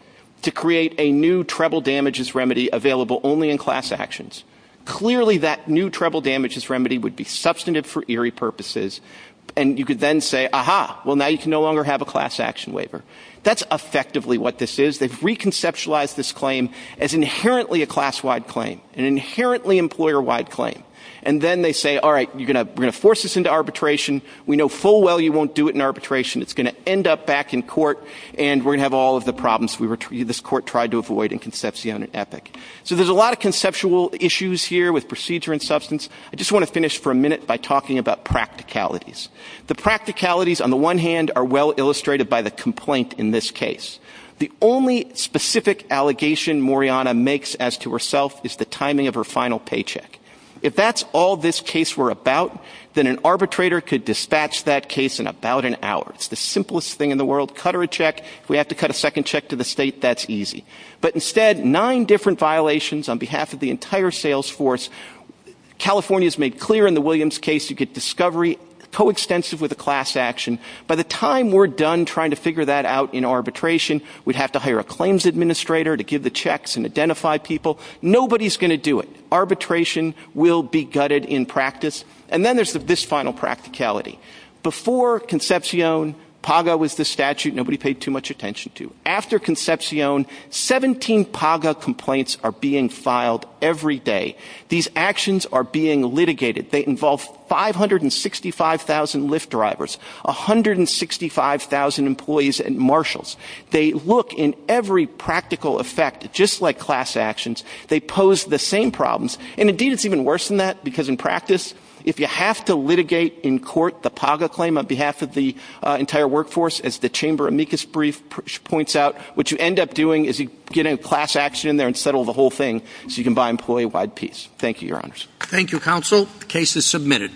to create a new treble damages remedy available only in class actions. Clearly, that new treble damages remedy would be substantive for eerie purposes. And you could then say, aha, well, now you can no longer have a class action waiver. That's effectively what this is. They've reconceptualized this claim as inherently a class-wide claim, an inherently employer-wide claim. And then they say, all right, we're going to force this into arbitration. We know full well you won't do it in arbitration. It's going to end up back in court, and we're going to have all of the problems this court tried to avoid in Concepcion and Epic. So there's a lot of conceptual issues here with procedure and substance. I just want to finish for a minute by talking about practicalities. The practicalities, on the one hand, are well illustrated by the complaint in this case. The only specific allegation Moriana makes as to herself is the timing of her final paycheck. If that's all this case were about, then an arbitrator could dispatch that case in about an hour. It's the simplest thing in the world. Cut her a check. If we have to cut a second check to the state, that's easy. But instead, nine different violations on behalf of the entire sales force. California has made clear in the Williams case you get discovery coextensive with a class action. By the time we're done trying to figure that out in arbitration, we'd have to hire a claims administrator to give the checks and identify people. Nobody's going to do it. Arbitration will be gutted in practice. And then there's this final practicality. Before Concepcion, PAGA was the statute nobody paid too much attention to. After Concepcion, 17 PAGA complaints are being filed every day. These actions are being litigated. They involve 565,000 Lyft drivers, 165,000 employees and marshals. They look in every practical effect just like class actions. They pose the same problems. And, indeed, it's even worse than that because, in practice, if you have to litigate in court the PAGA claim on behalf of the entire workforce, as the Chamber amicus brief points out, what you end up doing is getting a class action in there and settle the whole thing so you can buy employee-wide peace. Thank you, Your Honors. Thank you, Counsel. The case is submitted.